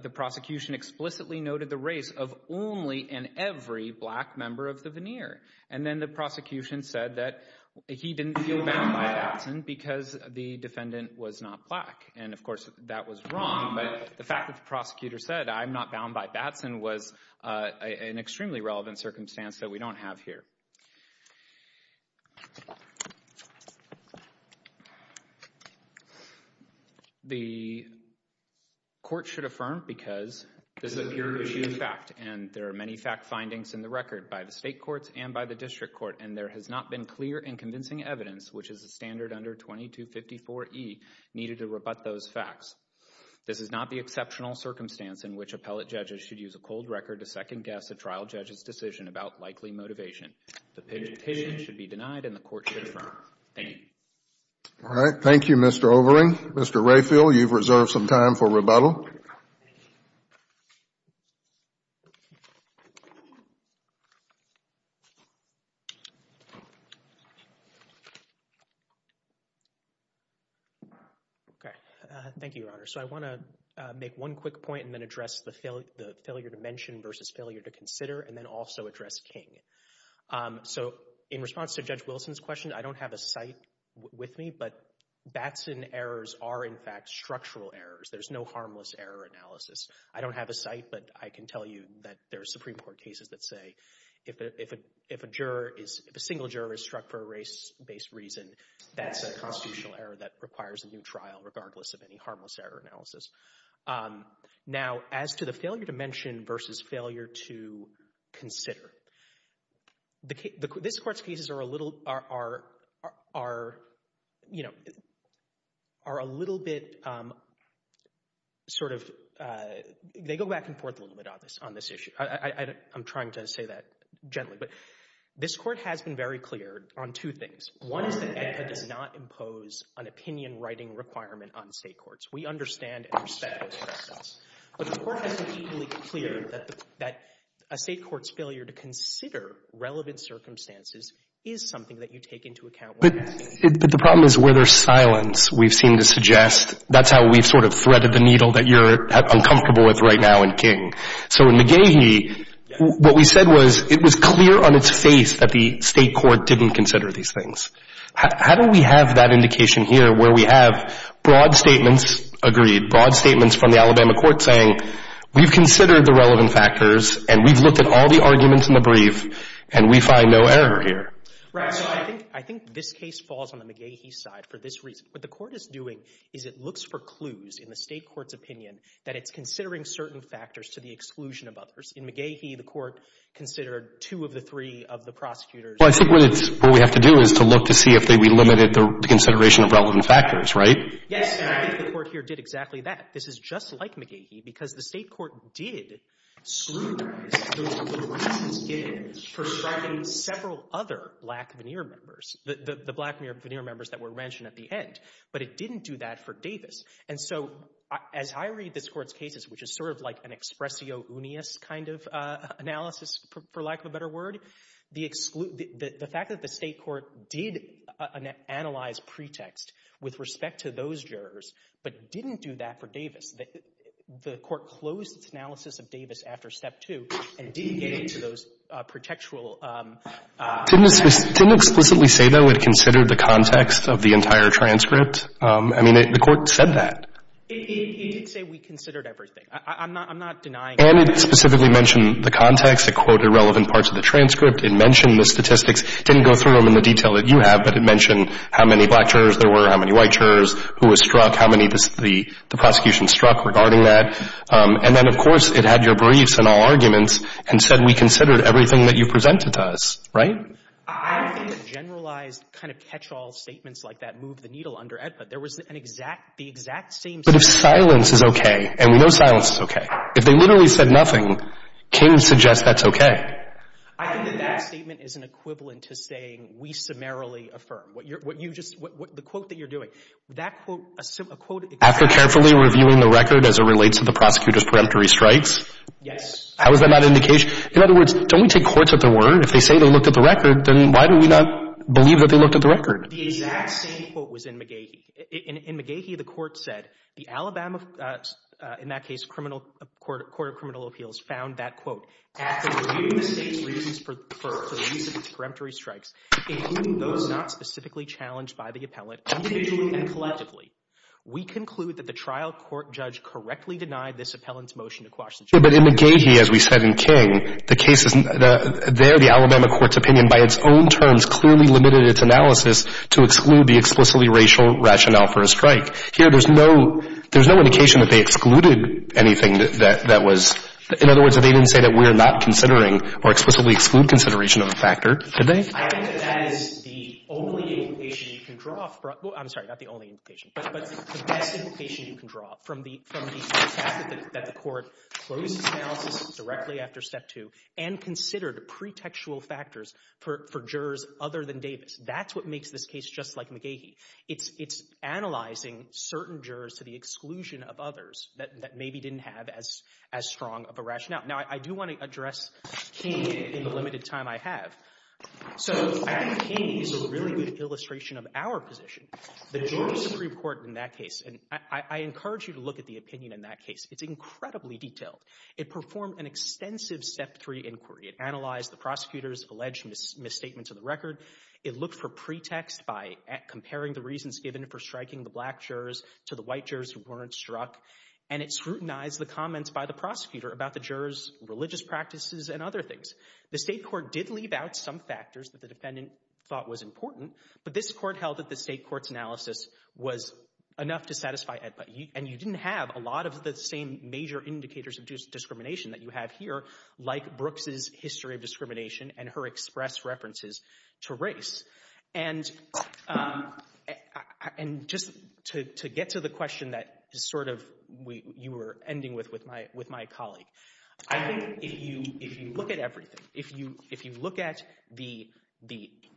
the prosecution explicitly noted the race of only and every black member of the veneer. And then the prosecution said that he didn't feel bound by Babson because the defendant was not black. And, of course, that was wrong, but the fact that the prosecutor said, I'm not bound by Babson, was an extremely relevant circumstance that we don't have here. The court should affirm because this is a pure issue of fact, and there are many fact findings in the record by the state courts and by the district court, and there has not been clear and convincing evidence, which is the standard under 2254E, needed to rebut those facts. This is not the exceptional circumstance in which appellate judges should use a cold record to second-guess a trial judge's decision about likely motivation. The presentation should be denied and the court should affirm. Thank you. All right. Thank you, Mr. Overing. Mr. Rayfield, you've reserved some time for rebuttal. Okay. Thank you, Your Honor. So I want to make one quick point and then address the failure to mention versus failure to consider and then also address King. So in response to Judge Wilson's question, I don't have a cite with me, but Batson errors are, in fact, structural errors. There's no harmless error analysis. I don't have a cite, but I can tell you that there are Supreme Court cases that say if a single juror is struck for a race-based reason, that's a constitutional error that requires a new trial regardless of any harmless error analysis. Now, as to the failure to mention versus failure to consider, this Court's cases are a little bit sort of they go back and forth a little bit on this issue. I'm trying to say that gently, but this Court has been very clear on two things. One is that it does not impose an opinion-writing requirement on state courts. We understand and respect that. But the Court has been equally clear that a state court's failure to consider relevant circumstances is something that you take into account when asking. But the problem is where there's silence, we've seen this suggest, that's how we've sort of threaded the needle that you're uncomfortable with right now in King. So in McGehee, what we said was it was clear on its face that the state court didn't consider these things. How do we have that indication here where we have broad statements, agreed, broad statements from the Alabama court saying we've considered the relevant factors and we've looked at all the arguments in the brief and we find no error here? Right. I think this case falls on the McGehee side for this reason. What the Court is doing is it looks for clues in the state court's opinion that it's considering certain factors to the exclusion of others. In McGehee, the Court considered two of the three of the prosecutors. Well, I think what it's, what we have to do is to look to see if they relimited the consideration of relevant factors, right? Yes, and I think the Court here did exactly that. This is just like McGehee because the state court did scrutinize those little reasons given for striking several other black veneer members, the black veneer members that were mentioned at the end. But it didn't do that for Davis. And so as I read this Court's cases, which is sort of like an expressio unius kind of analysis, for lack of a better word, the fact that the state court did analyze pretext with respect to those jurors but didn't do that for Davis, the Court closed its analysis of Davis after Step 2 and did get into those pretextual Didn't it explicitly say, though, it considered the context of the entire transcript? I mean, the Court said that. It did say we considered everything. I'm not denying that. And it specifically mentioned the context. It quoted relevant parts of the transcript. It mentioned the statistics. It didn't go through them in the detail that you have, but it mentioned how many black jurors there were, how many white jurors who were struck, how many the prosecution struck regarding that. And then, of course, it had your briefs and all arguments and said we considered everything that you presented to us, right? I don't think a generalized kind of catch-all statements like that moved the needle under EDPA. There was an exact, the exact same statement. But if silence is okay, and we know silence is okay, if they literally said nothing, King suggests that's okay. I think that that statement is an equivalent to saying we summarily affirm. What you just, the quote that you're doing, that quote, a quote After carefully reviewing the record as it relates to the prosecutor's preemptory strikes? Yes. How is that not indication? In other words, don't we take courts at their word? If they say they looked at the record, then why do we not believe that they looked at the record? The exact same quote was in McGehee. In McGehee, the court said the Alabama, in that case, Court of Criminal Appeals found that, quote, After reviewing the state's reasons for the release of its preemptory strikes, including those not specifically challenged by the appellant, individually and collectively, we conclude that the trial court judge correctly denied this appellant's motion to quash the charge. But in McGehee, as we said in King, the cases, there the Alabama court's opinion, by its own terms, clearly limited its analysis to exclude the explicitly racial rationale for a strike. Here, there's no indication that they excluded anything that was, in other words, that they didn't say that we're not considering or explicitly exclude consideration of a factor, did they? I think that that is the only implication you can draw, I'm sorry, not the only implication, but the best implication you can draw from the fact that the court closed its analysis directly after Step 2 and considered pretextual factors for jurors other than Davis. That's what makes this case just like McGehee. It's analyzing certain jurors to the exclusion of others that maybe didn't have as strong of a rationale. Now, I do want to address King in the limited time I have. So, I think King is a really good illustration of our position. The jury supreme court in that case, and I encourage you to look at the opinion in that case, it's incredibly detailed. It performed an extensive Step 3 inquiry. It analyzed the prosecutor's alleged misstatements of the record. It looked for pretext by comparing the reasons given for striking the black jurors to the white jurors who weren't struck, and it scrutinized the comments by the prosecutor about the jurors' religious practices and other things. The state court did leave out some factors that the defendant thought was important, but this court held that the state court's analysis was enough to satisfy it, and you didn't have a lot of the same major indicators of discrimination that you have here, like Brooks' history of discrimination and her express references to race. And just to get to the question that you were ending with my colleague, I think if you look at everything, if you look at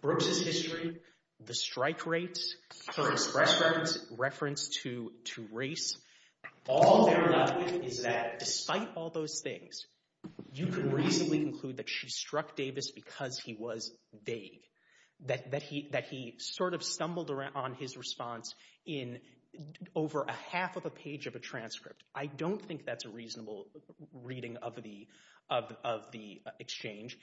Brooks' history, the strike rates, her express reference to race, all they're left with is that despite all those things, you can reasonably conclude that she struck Davis because he was vague, that he sort of stumbled on his response in over a half of a page of a transcript. I don't think that's a reasonable reading of the exchange.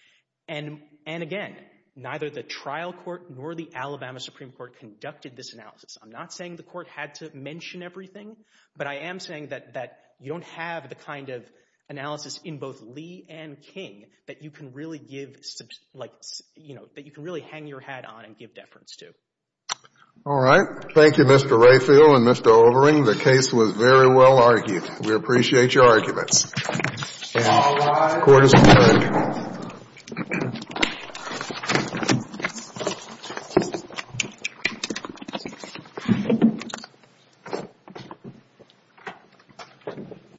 And again, neither the trial court nor the Alabama Supreme Court conducted this analysis. I'm not saying the court had to mention everything, but I am saying that you don't have the kind of analysis in both Lee and King that you can really give, like, you know, that you can really hang your hat on and give deference to. All right. Thank you, Mr. Rayfield and Mr. Overing. The case was very well argued. We appreciate your arguments. The court is adjourned. Thank you.